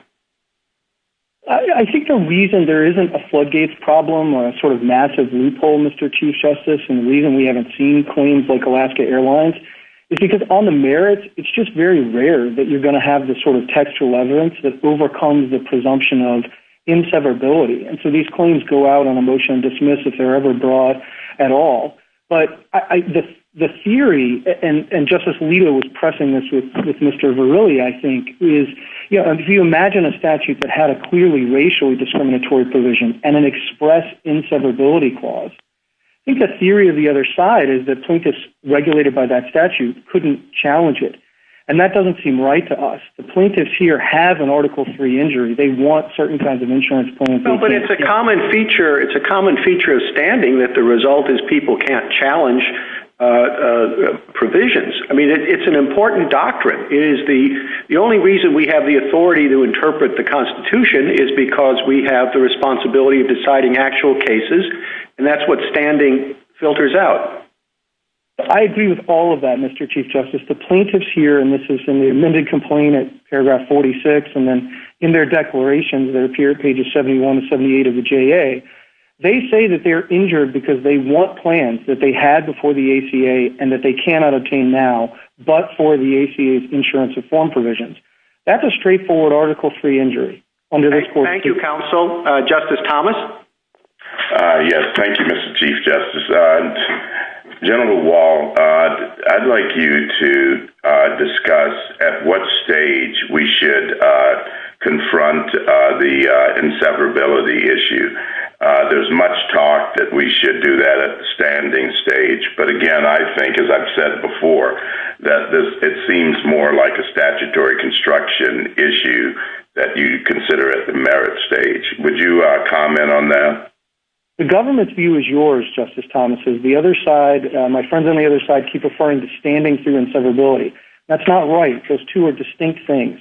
I think the reason there isn't a floodgates problem or a sort of massive loophole, Mr. Chief Justice, and the reason we haven't seen claims like Alaska Airlines is because, on the merits, it's just very rare that you're going to have this sort of textual evidence that overcomes the presumption of inseverability. And so these claims go out on a motion to dismiss if they're ever brought at all. But the theory, and Justice Alito was pressing this with Mr. Verrilli, I think, is he imagined a statute that had a clearly racially discriminatory provision and an express inseverability clause. I think the theory of the other side is that plaintiffs regulated by that statute couldn't challenge it, and that doesn't seem right to us. The plaintiffs here have an Article III injury. They want certain kinds of insurance payments. No, but it's a common feature. It's a common feature of standing that the result is people can't challenge provisions. I mean, it's an important doctrine. The only reason we have the authority to interpret the Constitution is because we have the responsibility of deciding actual cases, and that's what standing filters out. I agree with all of that, Mr. Chief Justice. The plaintiffs here, and this is in the amended complaint at paragraph 46, and then in their declarations that appear at pages 71 and 78 of the JA, they say that they're injured because they want plans that they had before the ACA and that they cannot obtain now, but for the ACA's insurance reform provisions. That's a straightforward Article III injury. Thank you, counsel. Justice Thomas? Yes, thank you, Mr. Chief Justice. General Wall, I'd like you to discuss at what stage we should confront the inseparability issue. There's much talk that we should do that at the standing stage, but again, I think, as I've said before, that it seems more like a statutory construction issue that you consider at the merit stage. Would you comment on that? The government's view is yours, Justice Thomas. The other side, my friends on the other side, keep referring to standing through inseparability. That's not right. Those two are distinct things.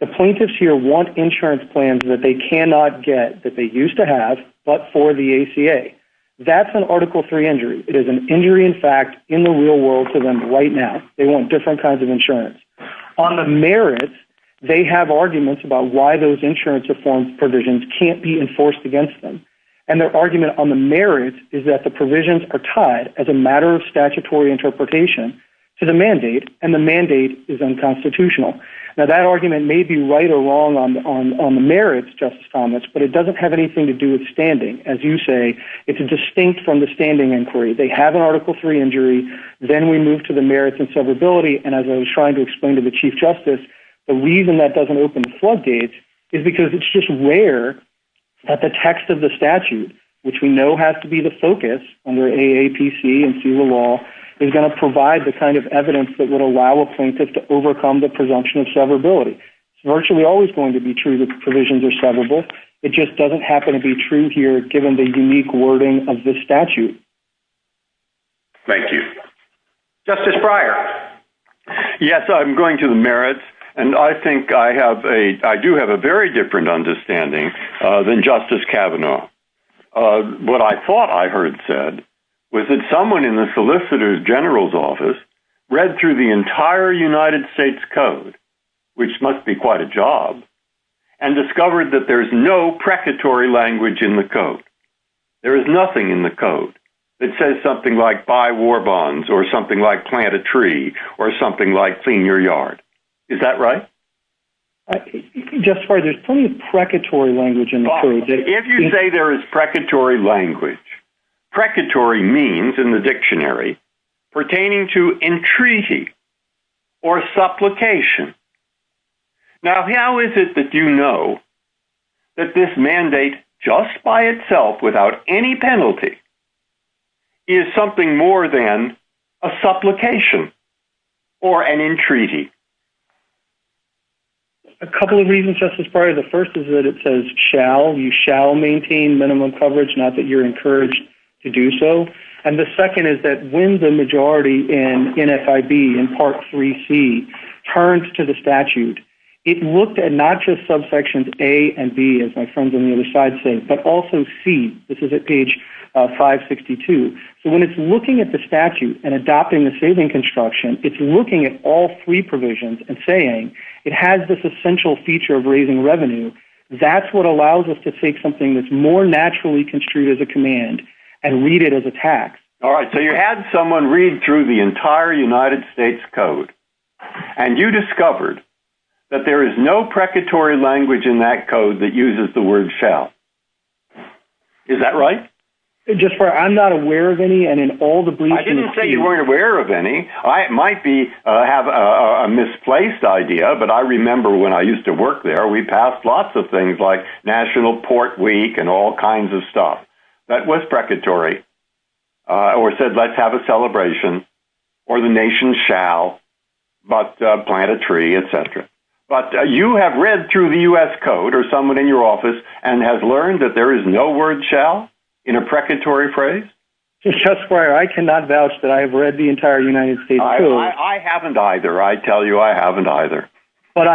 The plaintiffs here want insurance plans that they cannot get, that they used to have, but for the ACA. That's an Article III injury. It is an injury, in fact, in the real world for them right now. They want different kinds of insurance. On the merits, they have arguments about why those insurance reform provisions can't be enforced against them, and their argument on the merits is that the provisions are tied, as a matter of statutory interpretation, to the mandate, and the mandate is unconstitutional. Now, that argument may be right or wrong on the merits, Justice Thomas, but it doesn't have anything to do with standing. As you say, it's distinct from the standing inquiry. They have an Article III injury, then we move to the merits and severability, and as I was trying to explain to the Chief Justice, the reason that doesn't open the floodgates is because it's just rare that the text of the statute, which we know has to be the focus under AAPC and through the law, is going to provide the kind of evidence that would allow a plaintiff to overcome the presumption of severability. It's virtually always going to be true that the provisions are severable. It just doesn't happen to be true here given the unique wording of this statute. Thank you. Justice Breyer. Yes, I'm going to the merits, and I think I have a... I do have a very different understanding than Justice Kavanaugh. What I thought I heard said was that someone in the Solicitor General's office read through the entire United States Code, which must be quite a job, and discovered that there's no precatory language in the Code. There is nothing in the Code that says something like buy war bonds or something like plant a tree or something like clean your yard. Is that right? Justice Breyer, there's plenty of precatory language in the Code. If you say there is precatory language, precatory means, in the dictionary, pertaining to entreaty or supplication. Now, how is it that you know that this mandate, just by itself, without any penalty, is something more than a supplication or an entreaty? A couple of reasons, Justice Breyer. The first is that it says shall. You shall maintain minimum coverage, not that you're encouraged to do so. And the second is that when the majority in NFIB, in Part 3C, turned to the statute, it looked at not just subsections A and B, as my friends on the other side say, but also C. This is at page 562. So when it's looking at the statute and adopting the saving construction, it's looking at all three provisions and saying it has this essential feature of raising revenue. That's what allows us to take something that's more naturally construed as a command and read it as a tax. All right, so you had someone read through the entire United States Code, and you discovered that there is no precatory language in that code that uses the word shall. Is that right? Justice Breyer, I'm not aware of any, and in all the briefings... I didn't say you weren't aware of any. I might have a misplaced idea, but I remember when I used to work there, we passed lots of things like National Port Week and all kinds of stuff. That was precatory. Or said, let's have a celebration, or the nation shall, but plant a tree, et cetera. But you have read through the U.S. Code or someone in your office and has learned that there is no word shall in a precatory phrase? Justice Breyer, I cannot vouch that I have read the entire United States Code. I haven't either. I tell you I haven't either. But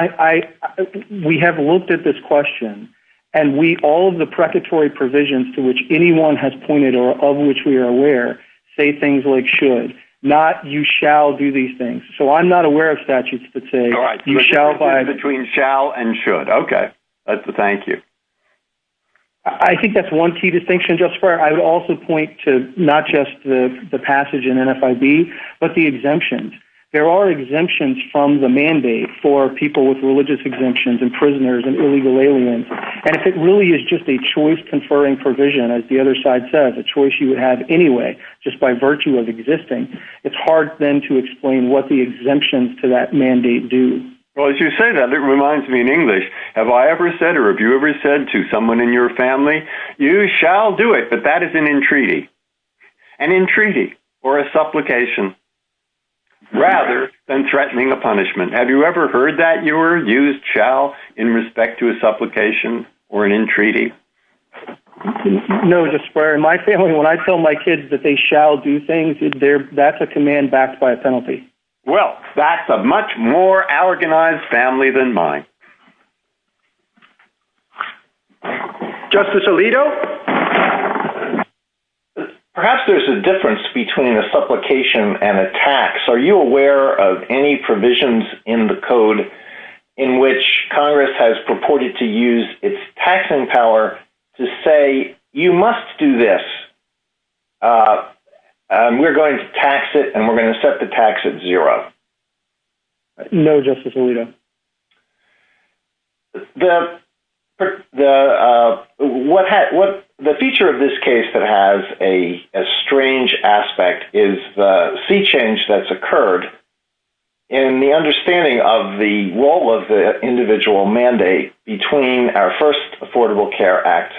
we have looked at this question, and all of the precatory provisions to which anyone has pointed or of which we are aware say things like should, not you shall do these things. So I'm not aware of statutes that say you shall buy... Between shall and should. Okay. That's a thank you. I think that's one key distinction, Justice Breyer. I would also point to not just the passage in NFIB, but the exemptions. There are exemptions from the mandate for people with religious exemptions and prisoners and illegal aliens. And if it really is just a choice conferring provision, as the other side says, a choice you would have anyway, just by virtue of existing, it's hard then to explain what the exemptions to that mandate do. Well, as you say that, it reminds me in English. Have I ever said or have you ever said to someone in your family, you shall do it, but that is an entreaty. An entreaty or a supplication rather than threatening a punishment. Have you ever heard that, Ewer? Use shall in respect to a supplication or an entreaty. No, Justice Breyer. In my family, when I tell my kids that they shall do things, that's a command backed by a penalty. Well, that's a much more organized family than mine. Justice Alito? Perhaps there's a difference between a supplication and a tax. Are you aware of any provisions in the code in which Congress has purported to use its taxing power to say you must do this. We're going to tax it and we're going to set the tax at zero. No, Justice Alito. The feature of this case that has a strange aspect is the sea change that's occurred. And the understanding of the role of the individual mandate between our first Affordable Care Act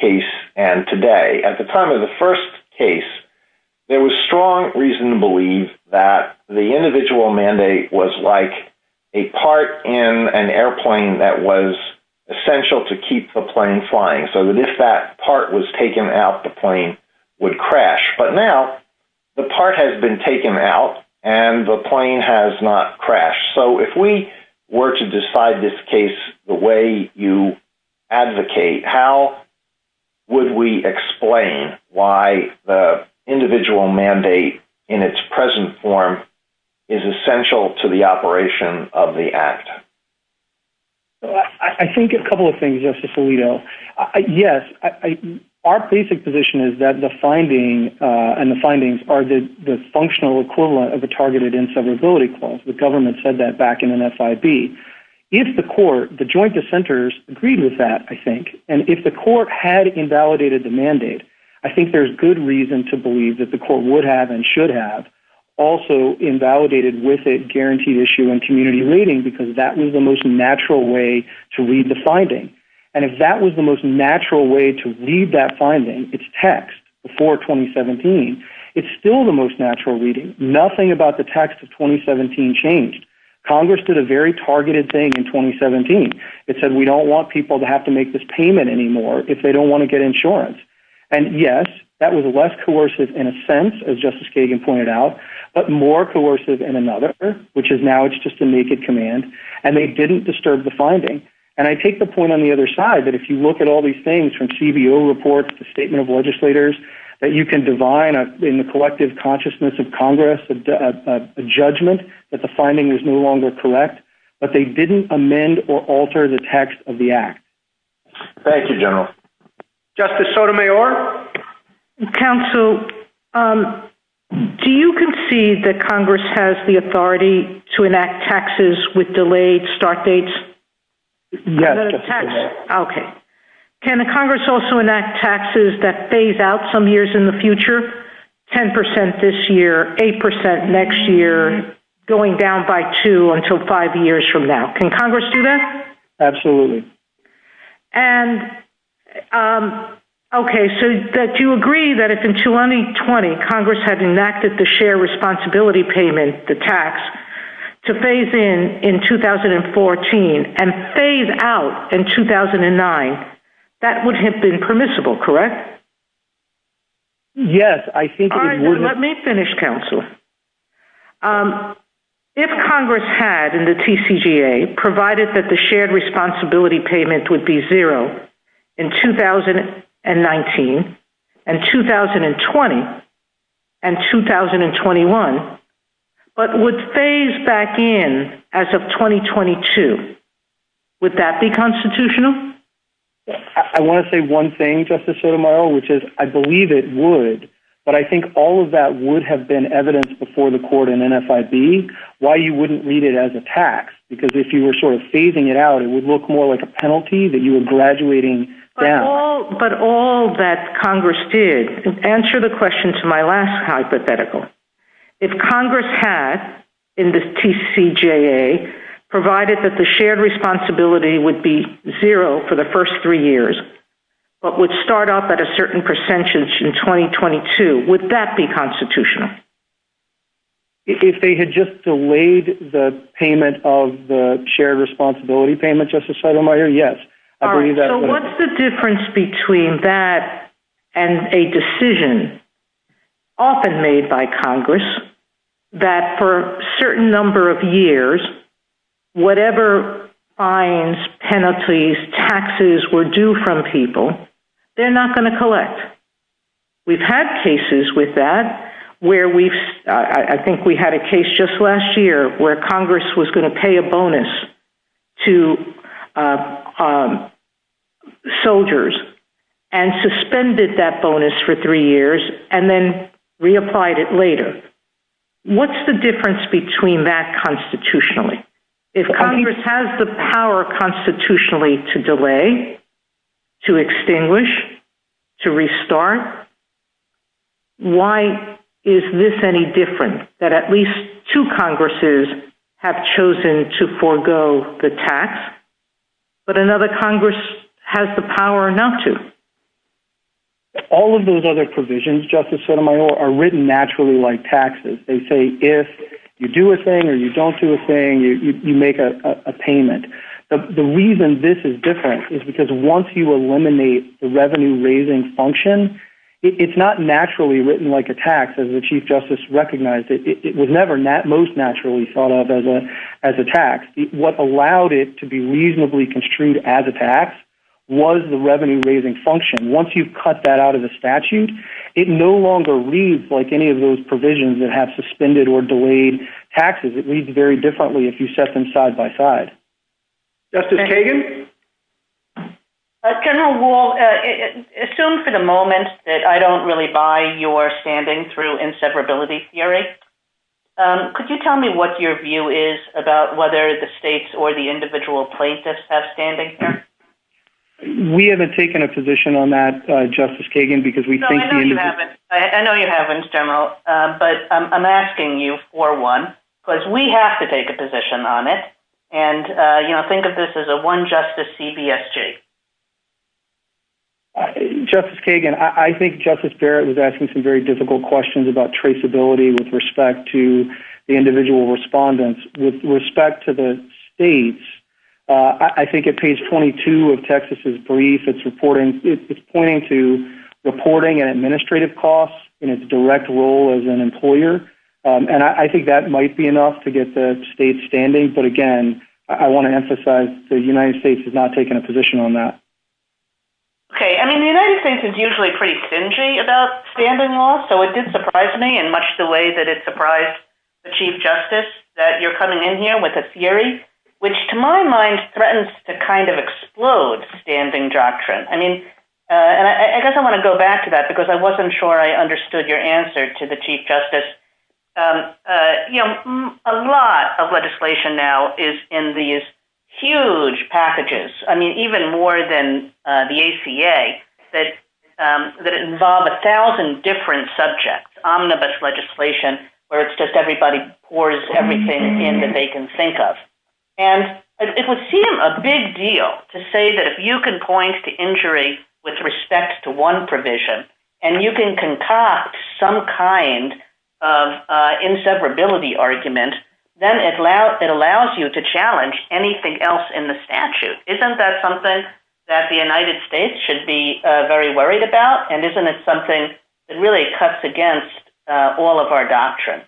case and today. At the time of the first case, there was strong reason to believe that the individual mandate was like a part in an airplane that was essential to keep the plane flying so that if that part was taken out, the plane would crash. But now, the part has been taken out and the plane has not crashed. So if we were to decide this case the way you advocate, how would we explain why the individual mandate in its present form is essential to the operation of the act? I think a couple of things, Justice Alito. Yes, our basic position is that the finding and the findings are the functional equivalent of a targeted inseparability clause. The government said that back in an SIB. If the court, the joint dissenters, agreed with that, I think, and if the court had invalidated the mandate, I think there's good reason to believe that the court would have and should have also invalidated with a guaranteed issue and community reading because that was the most natural way to read the finding. And if that was the most natural way to read that finding, its text, before 2017, it's still the most natural reading. Nothing about the text of 2017 changed. Congress did a very targeted thing in 2017. It said, we don't want people to have to make this payment anymore if they don't want to get insurance. And yes, that was less coercive in a sense, as Justice Kagan pointed out, but more coercive in another, which is now it's just a naked command, and they didn't disturb the finding. And I take the point on the other side, that if you look at all these things from CBO reports, the statement of legislators, that you can divine in the collective consciousness of Congress the judgment that the finding was no longer correct, but they didn't amend or alter the text of the act. Thank you, General. Justice Sotomayor? Counsel, do you concede that Congress has the authority to enact taxes with delayed start dates? Yes. Okay. Can the Congress also enact taxes that phase out some years in the future? 10% this year, 8% next year, going down by two until five years from now. Can Congress do that? Absolutely. And, okay, so that you agree that if in 2020, Congress had enacted the share responsibility payment, the tax, to phase in in 2014 and phase out in 2009, that would have been permissible, correct? Yes. Let me finish, Counsel. If Congress had, in the TCGA, provided that the shared responsibility payment would be zero in 2019 and 2020 and 2021, but would phase back in as of 2022, would that be constitutional? I want to say one thing, Justice Sotomayor, which is I believe it would, but I think all of that would have been evidence before the court in NFIB why you wouldn't read it as a tax, because if you were sort of phasing it out, it would look more like a penalty that you were graduating down. But all that Congress did, answer the question to my last hypothetical. If Congress had, in the TCGA, provided that the shared responsibility would be zero for the first three years, but would start off at a certain percentage in 2022, would that be constitutional? If they had just delayed the payment of the shared responsibility payment, Justice Sotomayor, yes. So what's the difference between that and a decision often made by Congress that for a certain number of years, whatever fines, penalties, taxes were due from people, they're not going to collect. We've had cases with that where I think we had a case just last year where Congress was going to pay a bonus to soldiers and suspended that bonus for three years and then reapplied it later. What's the difference between that constitutionally? If Congress has the power constitutionally to delay, to extinguish, to restart, why is this any different, that at least two Congresses have chosen to forego the tax, but another Congress has the power not to? All of those other provisions, Justice Sotomayor, are written naturally like taxes. They say if you do a thing or you don't do a thing, you make a payment. The reason this is different is because once you eliminate the revenue-raising function, it's not naturally written like a tax, as the Chief Justice recognized it. It was never most naturally thought of as a tax. What allowed it to be reasonably construed as a tax was the revenue-raising function. Once you cut that out of the statute, it no longer reads like any of those provisions that have suspended or delayed taxes. It reads very differently if you set them side by side. Justice Kagan? General Wald, assume for the moment that I don't really buy your standing through inseparability theory. Could you tell me what your view is about whether the states or the individual plaintiffs have standing here? We haven't taken a position on that, Justice Kagan, because we think... I know you haven't, General, but I'm asking you for one, because we have to take a position on it. And, you know, think of this as a one-justice CBSJ. Justice Kagan, I think Justice Barrett was asking some very difficult questions about traceability with respect to the individual respondents. With respect to the states, I think at page 22 of Texas's brief, it's pointing to reporting and administrative costs in its direct role as an employer, and I think that might be enough to get the states standing. But, again, I want to emphasize the United States has not taken a position on that. Okay, I mean, the United States is usually pretty stingy about standing law, so it did surprise me, in much the way that it surprised the Chief Justice, that you're coming in here with a theory which, to my mind, threatens to kind of explode standing doctrine. I mean, and I guess I want to go back to that, because I wasn't sure I understood your answer to the Chief Justice. You know, a lot of legislation now is in these huge packages, I mean, even more than the ACA, that involve a thousand different subjects, omnibus legislation, where it's just everybody pours everything in that they can think of. And it would seem a big deal to say that if you can point to injury with respect to one provision, and you can concoct some kind of inseparability argument, then it allows you to challenge anything else in the statute. Isn't that something that the United States should be very worried about? And isn't it something that really cuts against all of our doctrine?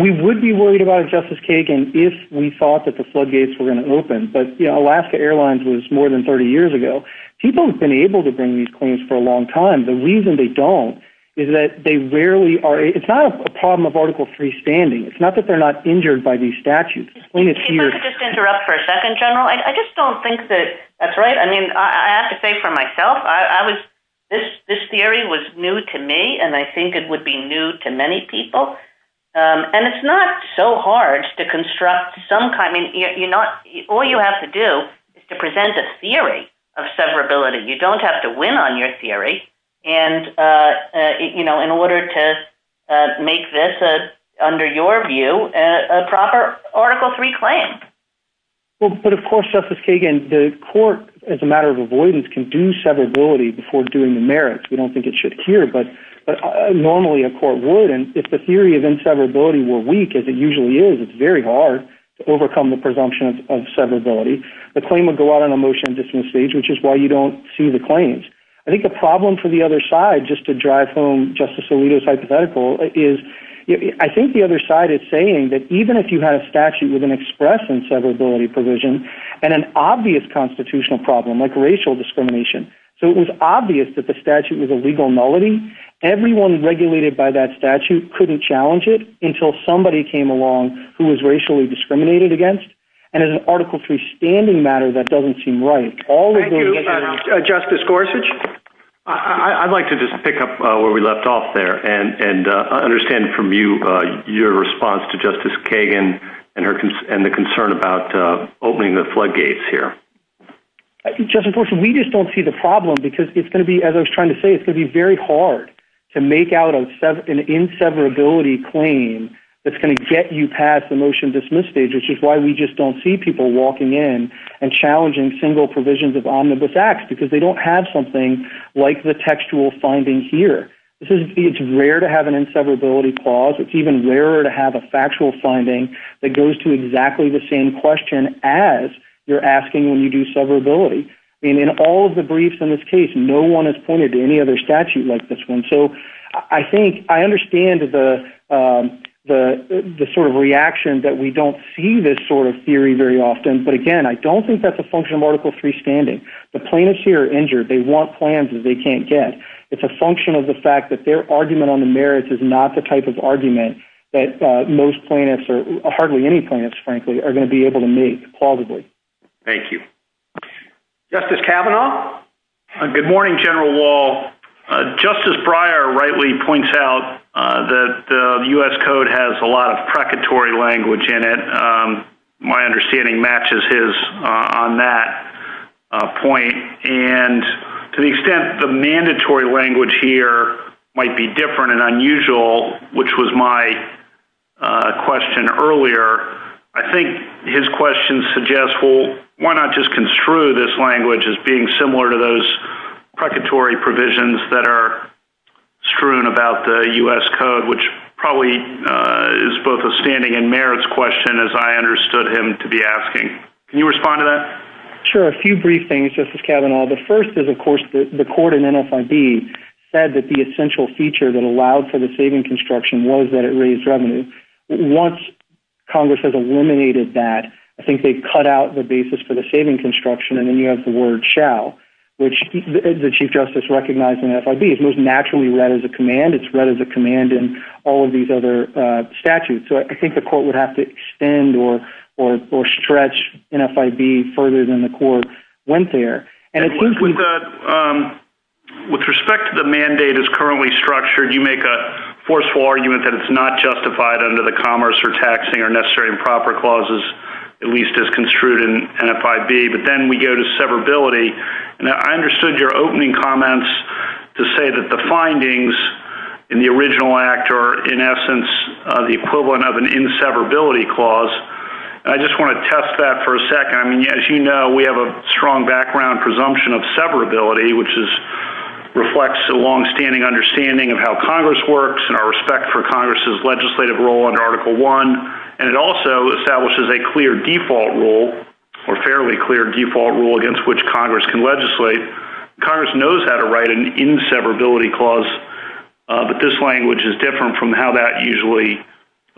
We would be worried about it, Justice Kagan, if we thought that the floodgates were going to open. But Alaska Airlines was more than 30 years ago. People have been able to bring these claims for a long time. The reason they don't is that they rarely are... It's not a problem of Article III standing. It's not that they're not injured by these statutes. Can I just interrupt for a second, General? I just don't think that that's right. I mean, I have to say for myself, this theory was new to me, and I think it would be new to many people. And it's not so hard to construct some kind... All you have to do is to present a theory of severability. You don't have to win on your theory in order to make this, under your view, a proper Article III claim. But of course, Justice Kagan, the court, as a matter of avoidance, can do severability before doing the merits. We don't think it should care, but normally a court would. And if the theory of inseverability were weak, as it usually is, it's very hard to overcome the presumption of severability. The claim would go out on a motion of dismissal, which is why you don't sue the claims. I think the problem for the other side, just to drive home Justice Alito's hypothetical, is I think the other side is saying that even if you had a statute with an express inseverability provision and an obvious constitutional problem, like racial discrimination, so it was obvious that the statute was a legal nullity, everyone regulated by that statute couldn't challenge it until somebody came along who was racially discriminated against. And in an Article III standing matter, that doesn't seem right. Thank you. Justice Gorsuch? I'd like to just pick up where we left off there and understand from you your response to Justice Kagan and the concern about opening the floodgates here. Justice Gorsuch, we just don't see the problem because it's going to be, as I was trying to say, it's going to be very hard to make out an inseverability claim that's going to get you past the motion-dismiss stage, which is why we just don't see people walking in and challenging single provisions of omnibus acts because they don't have something like the textual finding here. It's rare to have an inseverability clause. It's even rarer to have a factual finding that goes to exactly the same question as you're asking when you do severability. And in all of the briefs in this case, no one has pointed to any other statute like this one. So I think, I understand the sort of reaction that we don't see this sort of theory very often. But again, I don't think that's a function of Article III standing. The plaintiffs here are injured. They want plans that they can't get. It's a function of the fact that their argument on the merits is not the type of argument that most plaintiffs, or hardly any plaintiffs, frankly, are going to be able to make, plausibly. Thank you. Justice Kavanaugh? Good morning, General Wall. Justice Breyer rightly points out that the U.S. Code has a lot of precatory language in it. My understanding matches his on that point. And to the extent the mandatory language here might be different and unusual, which was my question earlier, I think his question suggests, well, why not just construe this language as being similar to those precatory provisions that are strewn about the U.S. Code, which probably is both a standing and merits question, as I understood him to be asking. Can you respond to that? Sure. A few brief things, Justice Kavanaugh. The first is, of course, the court in MSIB said that the essential feature that allowed for the saving construction was that it raised revenue. Once Congress has eliminated that, I think they've cut out the basis for the saving construction, and then you have the word shall, which the Chief Justice recognized in FIB. It was naturally read as a command. It's read as a command in all of these other statutes. So I think the court would have to extend or stretch NFIB further than the court went there. With respect to the mandate as currently structured, you make a forceful argument that it's not justified under the Commerce for Taxing or Necessary and Proper Clauses, at least as construed in NFIB. But then we go to severability. Now, I understood your opening comments to say that the findings in the original act are, in essence, the equivalent of an inseverability clause. I just want to test that for a second. I mean, as you know, we have a strong background presumption of severability, which reflects a longstanding understanding of how Congress works and our respect for Congress's legislative role in Article I. And it also establishes a clear default rule or fairly clear default rule against which Congress can legislate. Congress knows how to write an inseverability clause, but this language is different from how that usually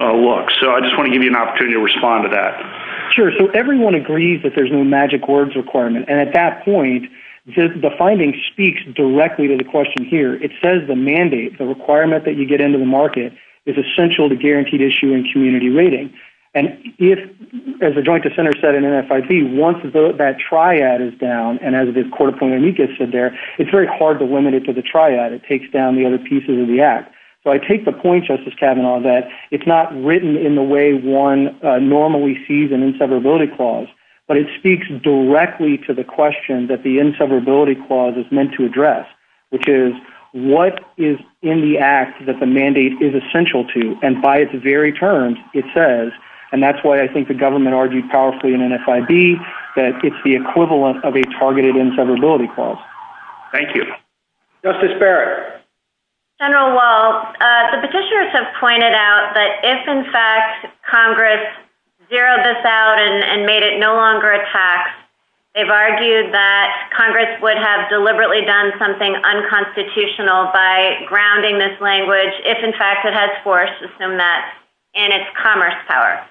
looks. So I just want to give you an opportunity to respond to that. Sure. So everyone agrees that there's no magic words requirement. And at that point, the finding speaks directly to the question here. It says the mandate, the requirement that you get into the market, is essential to guaranteed issue and community rating. And if, as the Joint Dissenters said in NFIB, once that triad is down, and as the Court of Columbia said there, it's very hard to limit it to the triad. It takes down the other pieces of the act. So I take the point, Justice Kavanaugh, that it's not written in the way one normally sees an inseverability clause, but it speaks directly to the question that the inseverability clause is meant to address, which is what is in the act that the mandate is essential to? And by its very terms, it says, and that's why I think the government argued powerfully in NFIB, that it's the equivalent of a targeted inseverability clause. Thank you. Justice Barrett. General Walz, the petitioners have pointed out that if, in fact, Congress zeroed this out and made it no longer a tax, they've argued that Congress would have deliberately done something unconstitutional by grounding this language if, in fact, it has force, assume that, in its commerce power.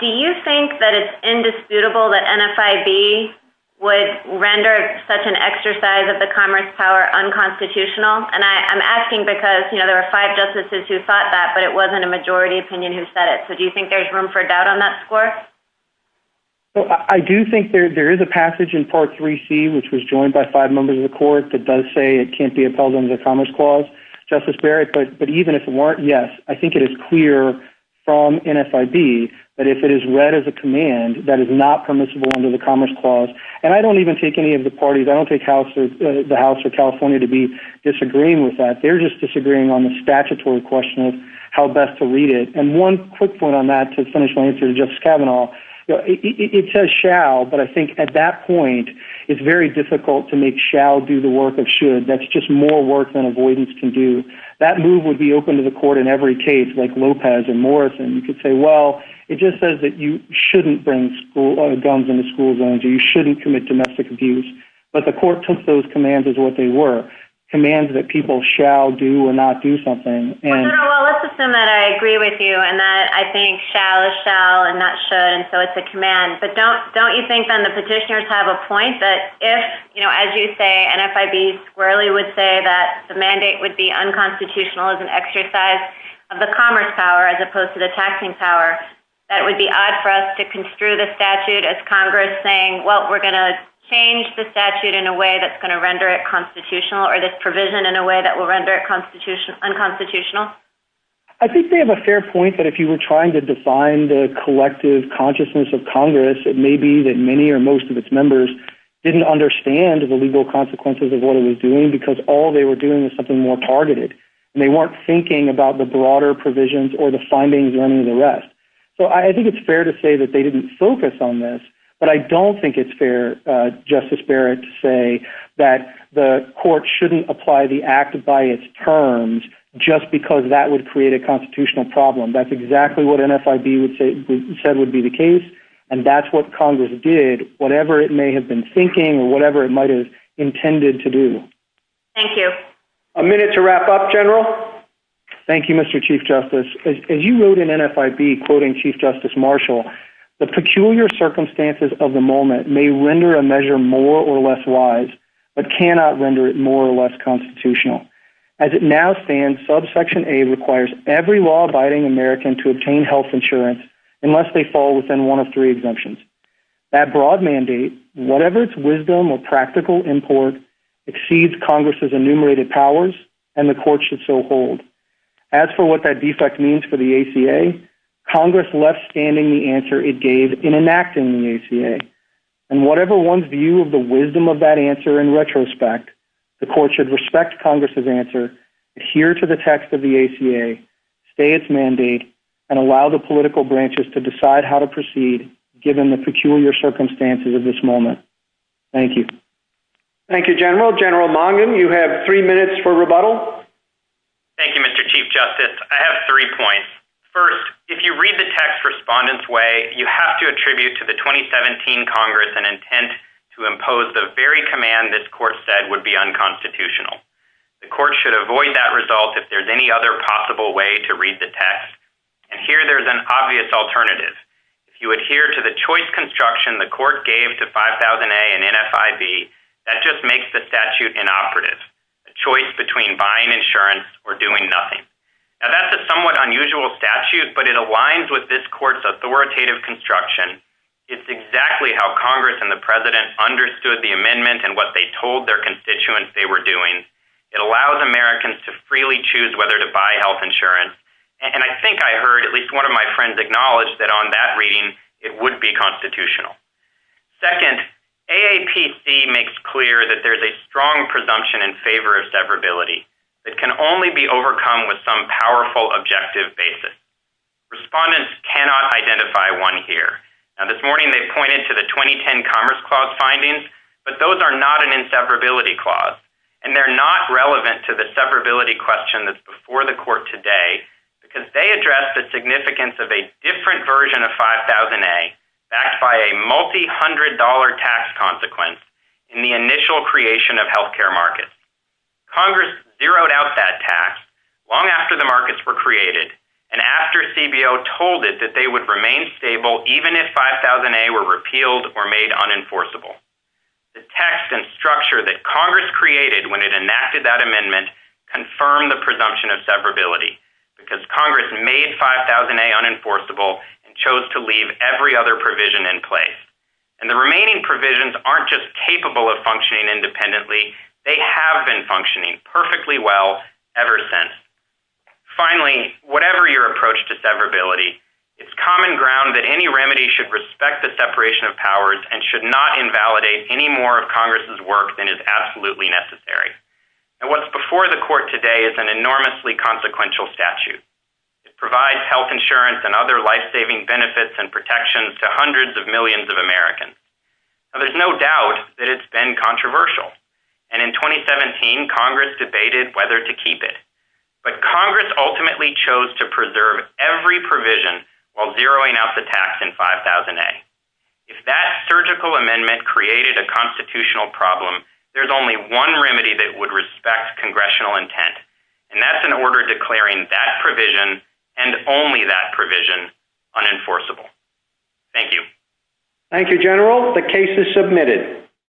Do you think that it's indisputable that NFIB would render such an exercise of the commerce power unconstitutional? And I'm asking because, you know, there were five justices who thought that, but it wasn't a majority opinion who said it. So do you think there's room for doubt on that score? Well, I do think there is a passage in Part 3C, which was joined by five members of the Court, that does say it can't be upheld under the Commerce Clause. Justice Barrett, but even if it weren't, yes, I think it is clear from NFIB that if it is read as a command that is not permissible under the Commerce Clause, and I don't even take any of the parties, I don't take the House of California to be disagreeing with that. They're just disagreeing on the statutory question of how best to read it. And one quick point on that to finish my answer to Justice Kavanaugh, it says shall, but I think at that point it's very difficult to make shall do the work of should. That's just more work than avoidance can do. That move would be open to the Court in every case, like Lopez and Morrison. You could say, well, it just says that you shouldn't bring guns into school zones and you shouldn't commit domestic abuse. But the Court took those commands as what they were, commands that people shall do or not do something. Well, let's assume that I agree with you and that I think shall is shall and not should, and so it's a command. But don't you think then the petitioners have a point that if, as you say, and F.I.B. Swirly would say that the mandate would be unconstitutional as an exercise of the commerce power as opposed to the taxing power, that it would be odd for us to construe the statute as Congress saying, well, we're going to change the statute in a way that's going to render it constitutional or this provision in a way that will render it unconstitutional? I think they have a fair point that if you were trying to define the collective consciousness of Congress, it may be that many or most of its members didn't understand the legal consequences of what it was doing because all they were doing was something more targeted and they weren't thinking about the broader provisions or the findings or any of the rest. So I think it's fair to say that they didn't focus on this, but I don't think it's fair, Justice Barrett, to say that the Court shouldn't apply the act by its terms just because that would create a constitutional problem. That's exactly what NFIB said would be the case, and that's what Congress did, whatever it may have been thinking or whatever it might have intended to do. Thank you. A minute to wrap up, General. Thank you, Mr. Chief Justice. As you wrote in NFIB, quoting Chief Justice Marshall, the peculiar circumstances of the moment may render a measure more or less wise but cannot render it more or less constitutional. As it now stands, Subsection A requires every law-abiding American to obtain health insurance unless they fall within one of three exemptions. That broad mandate, whatever its wisdom or practical import, exceeds Congress's enumerated powers, and the Court should so hold. As for what that defect means for the ACA, Congress left standing the answer it gave in enacting the ACA, and whatever one's view of the wisdom of that answer in retrospect, the Court should respect Congress's answer, adhere to the text of the ACA, stay its mandate, and allow the political branches to decide how to proceed given the peculiar circumstances of this moment. Thank you. Thank you, General. General Mongan, you have three minutes for rebuttal. Thank you, Mr. Chief Justice. I have three points. First, if you read the text Respondent's Way, you have to attribute to the 2017 Congress an intent to impose the very command this Court said would be unconstitutional. The Court should avoid that result if there's any other possible way to read the text. And here there's an obvious alternative. If you adhere to the choice construction the Court gave to 5000A and NFIV, that just makes the statute inoperative, a choice between buying insurance or doing nothing. Now that's a somewhat unusual statute, but it aligns with this Court's authoritative construction. It's exactly how Congress and the President understood the amendment and what they told their constituents they were doing. It allows Americans to freely choose whether to buy health insurance. And I think I heard at least one of my friends acknowledge that on that reading, it would be constitutional. Second, AAPC makes clear that there's a strong presumption in favor of severability that can only be overcome with some powerful objective basis. Respondents cannot identify one here. Now this morning they pointed to the 2010 Commerce Clause findings, but those are not an inseparability clause. And they're not relevant to the severability question that's before the Court today because they address the significance of a different version of 5000A backed by a multi-hundred dollar tax consequence in the initial creation of health care markets. Congress zeroed out that tax long after the markets were created and after CBO told it that they would remain stable even if 5000A were repealed or made unenforceable. The text and structure that Congress created when it enacted that amendment confirmed the presumption of severability because Congress made 5000A unenforceable and chose to leave every other provision in place. And the remaining provisions aren't just capable of functioning independently, they have been functioning perfectly well ever since. Finally, whatever your approach to severability, it's common ground that any remedy should respect the separation of powers and should not invalidate any more of Congress's work than is absolutely necessary. And what's before the Court today is an enormously consequential statute. It provides health insurance and other life-saving benefits and protections to hundreds of millions of Americans. Now there's no doubt that it's been controversial. And in 2017, Congress debated whether to keep it. But Congress ultimately chose to preserve every provision while zeroing out the tax in 5000A. If that surgical amendment created a constitutional problem, there's only one remedy that would respect Congressional intent, and that's an order declaring that provision and only that provision unenforceable. Thank you. Thank you, General. The case is submitted.